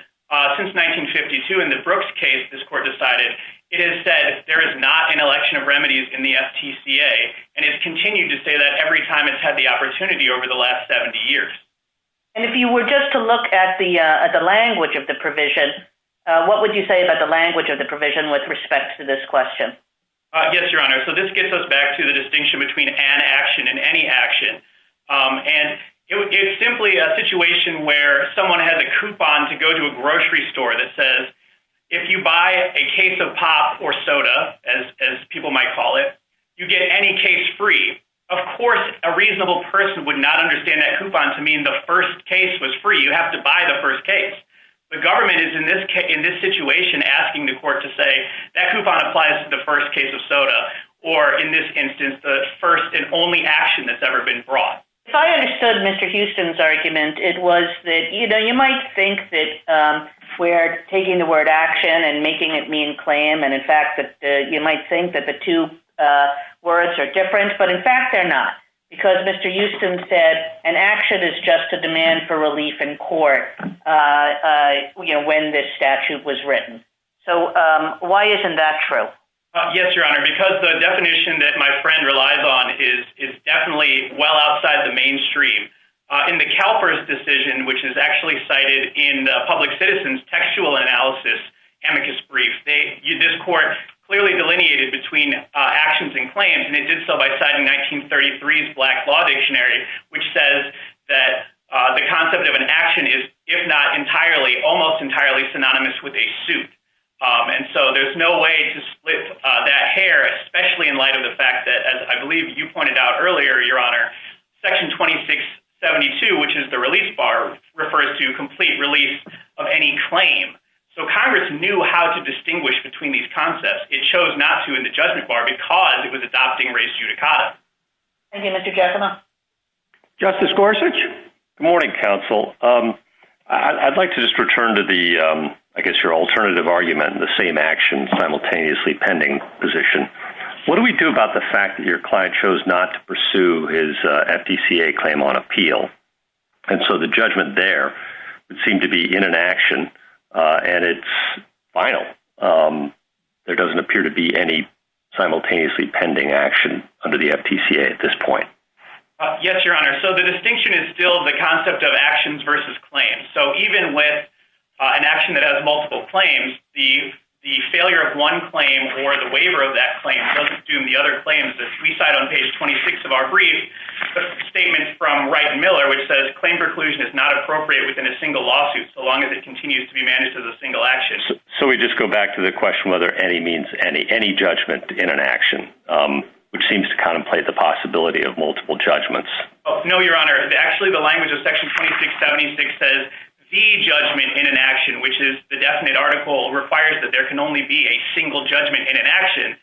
since 1952 in the Brooks case, this court decided it has said there is not an election of remedies in the FTCA, and it's continued to say that every time it's had the opportunity over the last 70 years. And if you were just to look at the language of the provision, what would you say about the language of the provision with respect to this question? Yes, Your Honor. So this gets us back to the distinction between an action and any action. And it's simply a situation where someone has a coupon to go to a grocery store that says, if you buy a case of pop or soda, as people might call it, you get any case free. Of course, a reasonable person would not understand that coupon to mean the first case was free. You have to buy the first case. The government is in this situation asking the court to say that coupon applies to the first case of soda, or in this instance, the first and only action that's ever been brought. If I understood Mr. Houston's argument, it was that, you know, you might think that we're taking the word action and making it mean claim. And in fact, you might think that the two words are different. But in fact, they're not. Because Mr. Houston said an action is just a demand for relief in court when this statute was written. So why isn't that true? Yes, Your Honor, because the definition that my friend relies on is definitely well outside the mainstream. In the CalPERS decision, which is actually cited in Public Citizen's textual analysis amicus brief, this court clearly delineated between actions and claims, and it did so by citing 1933's Black Law Dictionary, which says that the concept of an action is, if not entirely, almost entirely synonymous with a suit. And so there's no way to split that hair, especially in light of the fact that, as I believe you pointed out earlier, Your Honor, Section 2672, which is the release bar, refers to complete release of any claim. So Congress knew how to distinguish between these concepts. It chose not to in the judgment bar because it was adopting res judicata. Thank you, Mr. Giacomo. Justice Gorsuch? Good morning, counsel. I'd like to just return to the, I guess, your alternative argument, the same action simultaneously pending position. What do we do about the fact that your client chose not to pursue his FDCA claim on appeal? And so the judgment there would seem to be in an action, and it's final. There doesn't appear to be any simultaneously pending action under the FDCA at this point. Yes, Your Honor. So the distinction is still the concept of actions versus claims. So even with an action that has multiple claims, the failure of one claim or the waiver of that claim doesn't assume the other claims that we cite on page 26 of our brief. The statement from Wright and Miller, which says, Claim preclusion is not appropriate within a single lawsuit so long as it continues to be managed as a single action. So we just go back to the question whether any means any judgment in an action, which seems to contemplate the possibility of multiple judgments. No, Your Honor. Actually, the language of Section 2676 says the judgment in an action, which is the definite article requires that there can only be a single judgment in an action.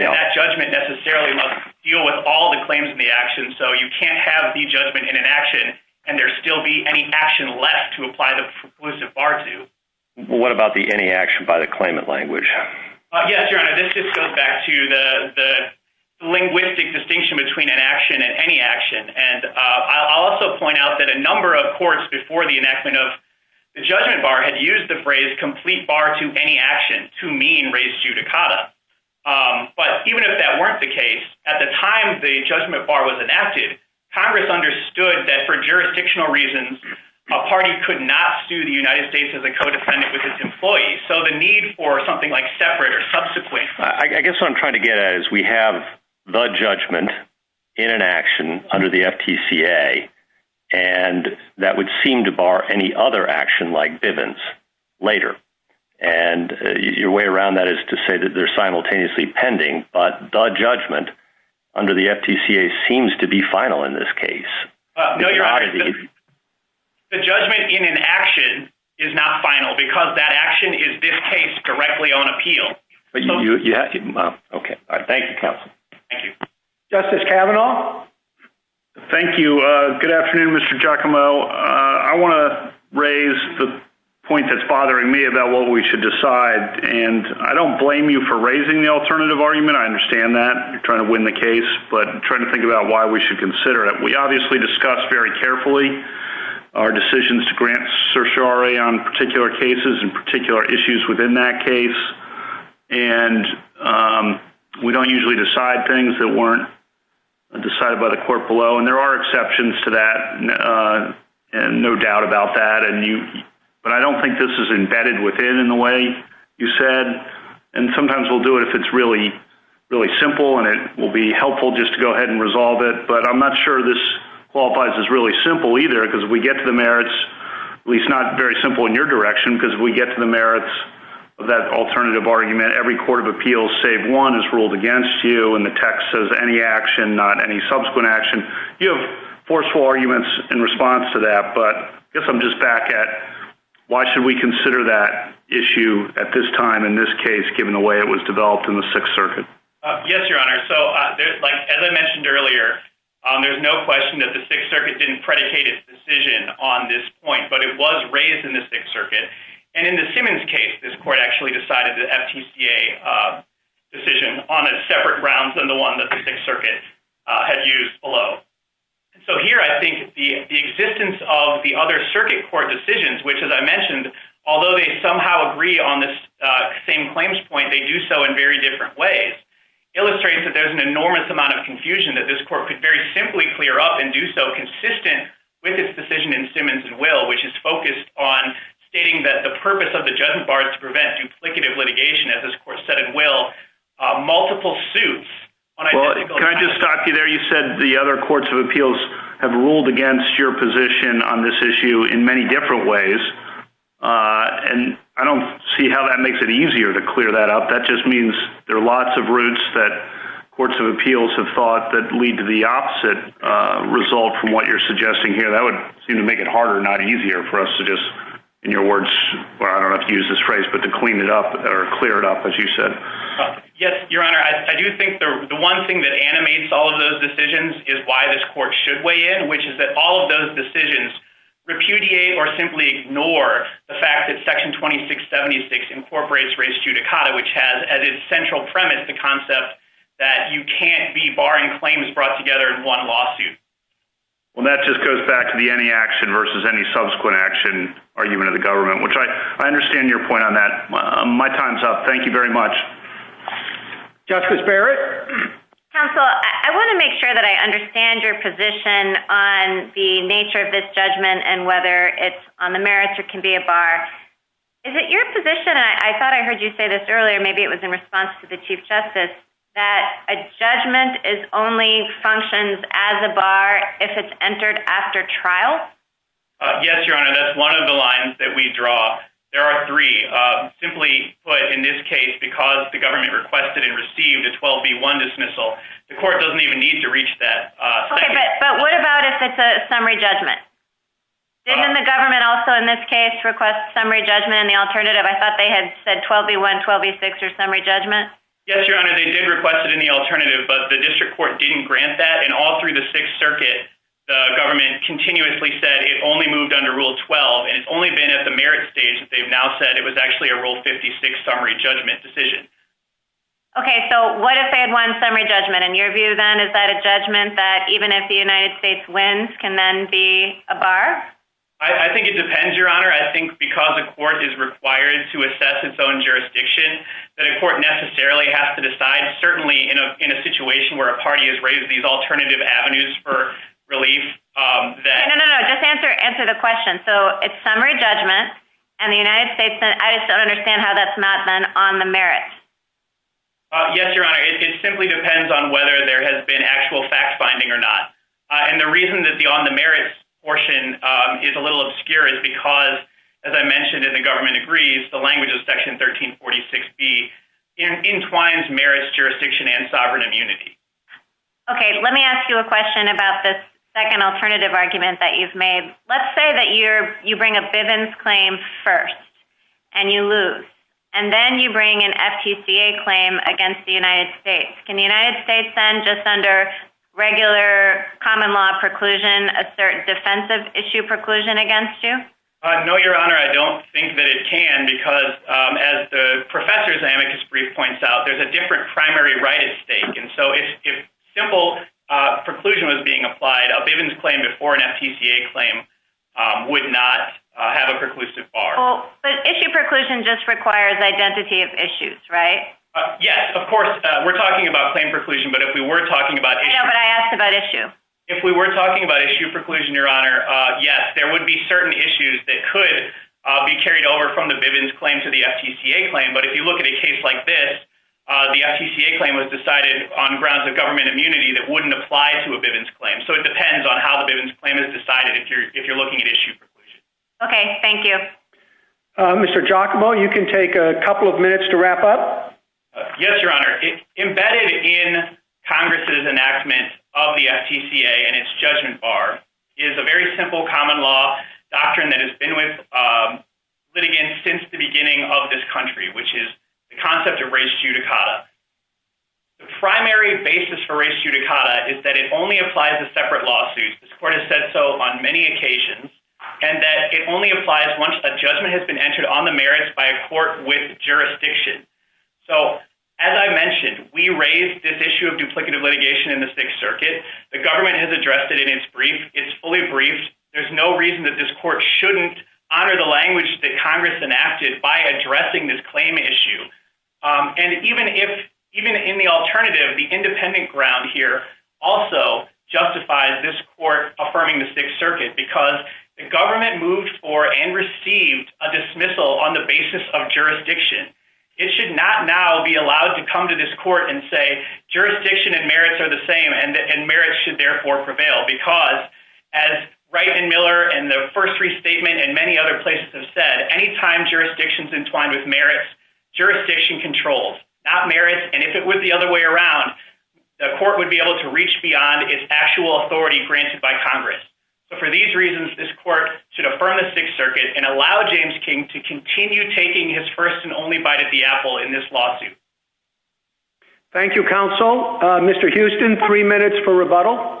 That judgment necessarily must deal with all the claims in the action. So you can't have the judgment in an action and there still be any action left to apply the preclusive bar to. What about the any action by the claimant language? Yes, Your Honor. This just goes back to the linguistic distinction between an action and any action. And I'll also point out that a number of courts before the enactment of the judgment bar had used the phrase complete bar to any action to mean raise judicata. But even if that weren't the case, at the time the judgment bar was enacted, Congress understood that for jurisdictional reasons, a party could not sue the United States as a codependent with its employees. So the need for something like separate or subsequent. I guess what I'm trying to get at is we have the judgment in an action under the FTCA, and that would seem to bar any other action like Bivens later. And your way around that is to say that they're simultaneously pending. But the judgment under the FTCA seems to be final in this case. No, Your Honor. The judgment in an action is not final because that action is, in this case, directly on appeal. Okay. Thank you, counsel. Thank you. Justice Kavanaugh? Thank you. Good afternoon, Mr. Giacomo. I want to raise the point that's bothering me about what we should decide. And I don't blame you for raising the alternative argument. I understand that. You're trying to win the case. But I'm trying to think about why we should consider it. We obviously discuss very carefully our decisions to grant certiorari on particular cases and particular issues within that case. And we don't usually decide things that weren't decided by the court below. And there are exceptions to that, and no doubt about that. But I don't think this is embedded within, in the way you said. And sometimes we'll do it if it's really, really simple, and it will be helpful just to go ahead and resolve it. But I'm not sure this qualifies as really simple either because we get to the merits, at least not very simple in your direction, because we get to the merits of that alternative argument, every court of appeals save one is ruled against you, and the text says any action, not any subsequent action. You have forceful arguments in response to that. But I guess I'm just back at why should we consider that issue at this time in this case, given the way it was developed in the Sixth Circuit? Yes, Your Honor. So as I mentioned earlier, there's no question that the Sixth Circuit didn't predicate its decision on this point, but it was raised in the Sixth Circuit. And in the Simmons case, this court actually decided the FTCA decision on a separate grounds than the one that the Sixth Circuit had used below. So here I think the existence of the other circuit court decisions, which as I mentioned, although they somehow agree on this same claims point, they do so in very different ways, illustrates that there's an enormous amount of confusion that this court could very simply clear up and do so consistent with its decision in Simmons and Will, which is focused on stating that the purpose of the judgment bar is to prevent duplicative litigation, as this court said in Will, multiple suits. Can I just stop you there? You said the other courts of appeals have ruled against your position on this issue in many different ways, and I don't see how that makes it easier to clear that up. That just means there are lots of routes that courts of appeals have thought that lead to the opposite result from what you're suggesting here. That would seem to make it harder, not easier, for us to just, in your words, I don't know if you used this phrase, but to clean it up or clear it up, as you said. Yes, Your Honor. I do think the one thing that animates all of those decisions is why this court should weigh in, which is that all of those decisions repudiate or simply ignore the fact that Section 2676 incorporates res judicata, which has as its central premise the concept that you can't be barring claims brought together in one lawsuit. Well, that just goes back to the any action versus any subsequent action argument of the government, which I understand your point on that. My time's up. Thank you very much. Justice Barrett? Counsel, I want to make sure that I understand your position on the nature of this judgment and whether it's on the merits or can be a bar. Is it your position, and I thought I heard you say this earlier, maybe it was in response to the Chief Justice, that a judgment only functions as a bar if it's entered after trial? Yes, Your Honor. That's one of the lines that we draw. There are three. Simply put, in this case, because the government requested and received a 12B1 dismissal, the court doesn't even need to reach that. But what about if it's a summary judgment? Didn't the government also in this case request summary judgment in the alternative? I thought they had said 12B1, 12B6 or summary judgment. Yes, Your Honor. They did request it in the alternative, but the district court didn't grant that, and all through the Sixth Circuit the government continuously said it only moved under Rule 12, and it's only been at the merit stage that they've now said it was actually a Rule 56 summary judgment decision. Okay. So what if they had won summary judgment? In your view then, is that a judgment that even if the United States wins can then be a bar? I think it depends, Your Honor. I think because the court is required to assess its own jurisdiction, that a court necessarily has to decide, certainly in a situation where a party has raised these alternative avenues for relief. No, no, no. Just answer the question. So it's summary judgment, and the United States, I just don't understand how that's not then on the merit. Yes, Your Honor. It simply depends on whether there has been actual fact-finding or not, and the reason that the on the merits portion is a little obscure is because, as I mentioned in the government agrees, the language of Section 1346B entwines merits, jurisdiction, and sovereign immunity. Okay. Let me ask you a question about this second alternative argument that you've made. Let's say that you bring a Bivens claim first, and you lose, and then you bring an FTCA claim against the United States. Can the United States then, just under regular common law preclusion, assert defensive issue preclusion against you? No, Your Honor. I don't think that it can because, as the professor's amicus brief points out, there's a different primary right at stake, and so if simple preclusion was being applied, a Bivens claim before an FTCA claim would not have a preclusive bar. But issue preclusion just requires identity of issues, right? Yes, of course. We're talking about claim preclusion, but if we were talking about issue. But I asked about issue. If we were talking about issue preclusion, Your Honor, yes. There would be certain issues that could be carried over from the Bivens claim to the FTCA claim, but if you look at a case like this, the FTCA claim was decided on grounds of government immunity that wouldn't apply to a Bivens claim, so it depends on how the Bivens claim is decided if you're looking at issue preclusion. Okay. Thank you. Mr. Giacomo, you can take a couple of minutes to wrap up. Yes, Your Honor. Embedded in Congress's enactment of the FTCA and its judgment bar is a very simple common law doctrine that has been with litigants since the beginning of this country, which is the concept of res judicata. The primary basis for res judicata is that it only applies to separate lawsuits. This court has said so on many occasions, and that it only applies once a judgment has been entered on the merits by a court with jurisdiction. So as I mentioned, we raised this issue of duplicative litigation in the Sixth Circuit. The government has addressed it in its brief. It's fully briefed. There's no reason that this court shouldn't honor the language that Congress enacted by addressing this claim issue. And even in the alternative, the independent ground here also justifies this court affirming the Sixth Circuit because the government moved for and received a dismissal on the basis of jurisdiction. It should not now be allowed to come to this court and say, jurisdiction and merits are the same and merits should therefore prevail because as Wright and Miller and the first restatement and many other places have said, any time jurisdictions entwined with merits, jurisdiction controls, not merits. And if it was the other way around, the court would be able to reach beyond its actual authority granted by Congress. So for these reasons, this court should affirm the Sixth Circuit and allow James King to continue taking his first and only bite at the apple in this lawsuit. Thank you, Counsel. Mr. Houston, three minutes for rebuttal.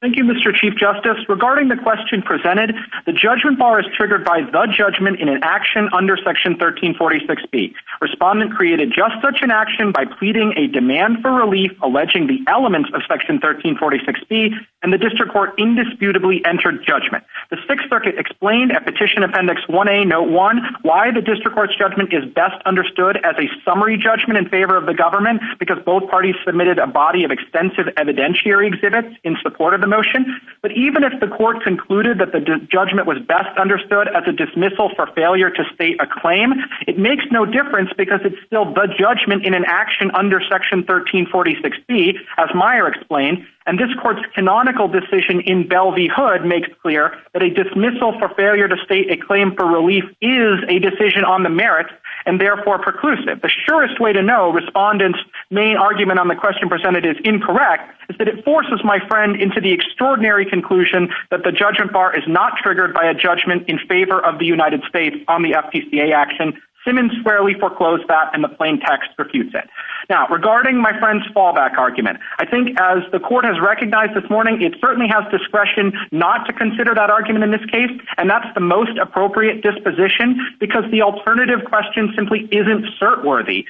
Thank you, Mr. Chief Justice. Regarding the question presented, the judgment bar is triggered by the judgment in an action under Section 1346B. Respondent created just such an action by pleading a demand for relief, alleging the elements of Section 1346B, and the district court indisputably entered judgment. The Sixth Circuit explained at Petition Appendix 1A, Note 1, why the district court's judgment is best understood as a summary judgment in favor of the government because both parties submitted a body of extensive evidentiary exhibits in support of the motion. But even if the court concluded that the judgment was best understood as a dismissal for failure to state a claim, it makes no difference because it's still the judgment in an action under Section 1346B, as Meyer explained. And this court's canonical decision in Belle v. Hood makes clear that a dismissal for failure to state a claim for relief is a decision on the merits, and therefore preclusive. The surest way to know Respondent's main argument on the question presented is incorrect is that it forces my friend into the extraordinary conclusion that the judgment bar is not triggered by a judgment in favor of the United States on the FPCA action. Simmons squarely foreclosed that, and the plain text refutes it. Now, regarding my friend's fallback argument, I think as the court has recognized this morning, it certainly has discretion not to consider that argument in this case, and that's the most appropriate disposition because the alternative question simply isn't cert-worthy.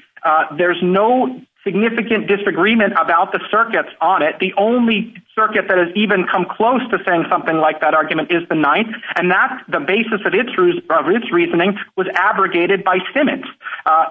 There's no significant disagreement about the circuits on it. The only circuit that has even come close to saying something like that argument is the Ninth, and that's the basis of its reasoning was abrogated by Simmons.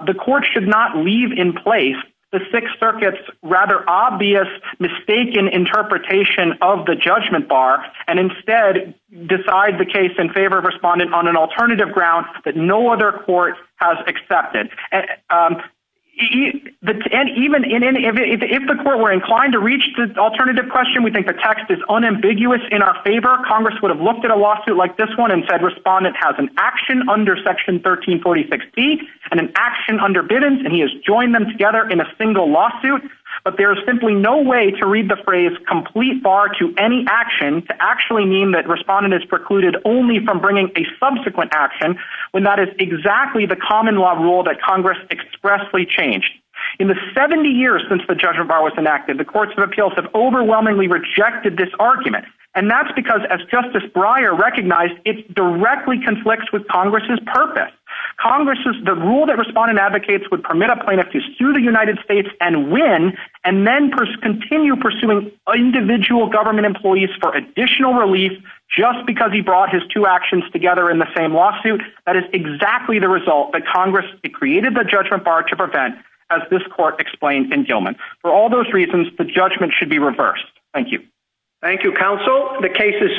The court should not leave in place the Sixth Circuit's rather obvious mistaken interpretation of the judgment bar and instead decide the case in favor of Respondent on an alternative ground that no other court has accepted. If the court were inclined to reach the alternative question, we think the text is unambiguous in our favor. Congress would have looked at a lawsuit like this one and said Respondent has an action under Section 1346B and an action under Bidens, and he has joined them together in a single lawsuit, but there is simply no way to read the phrase complete bar to any action to actually mean that Respondent is precluded only from bringing a subsequent action when that is exactly the common law rule that Congress expressly changed. In the 70 years since the judgment bar was enacted, the courts of appeals have overwhelmingly rejected this argument, and that's because, as Justice Breyer recognized, it directly conflicts with Congress's purpose. Congress's rule that Respondent advocates would permit a plaintiff to sue the United States and win and then continue pursuing individual government employees for additional relief just because he brought his two actions together in the same lawsuit, that is exactly the result that Congress created the judgment bar to prevent, as this court explained in Gilman. For all those reasons, the judgment should be reversed. Thank you. Thank you, Counsel. The case is submitted.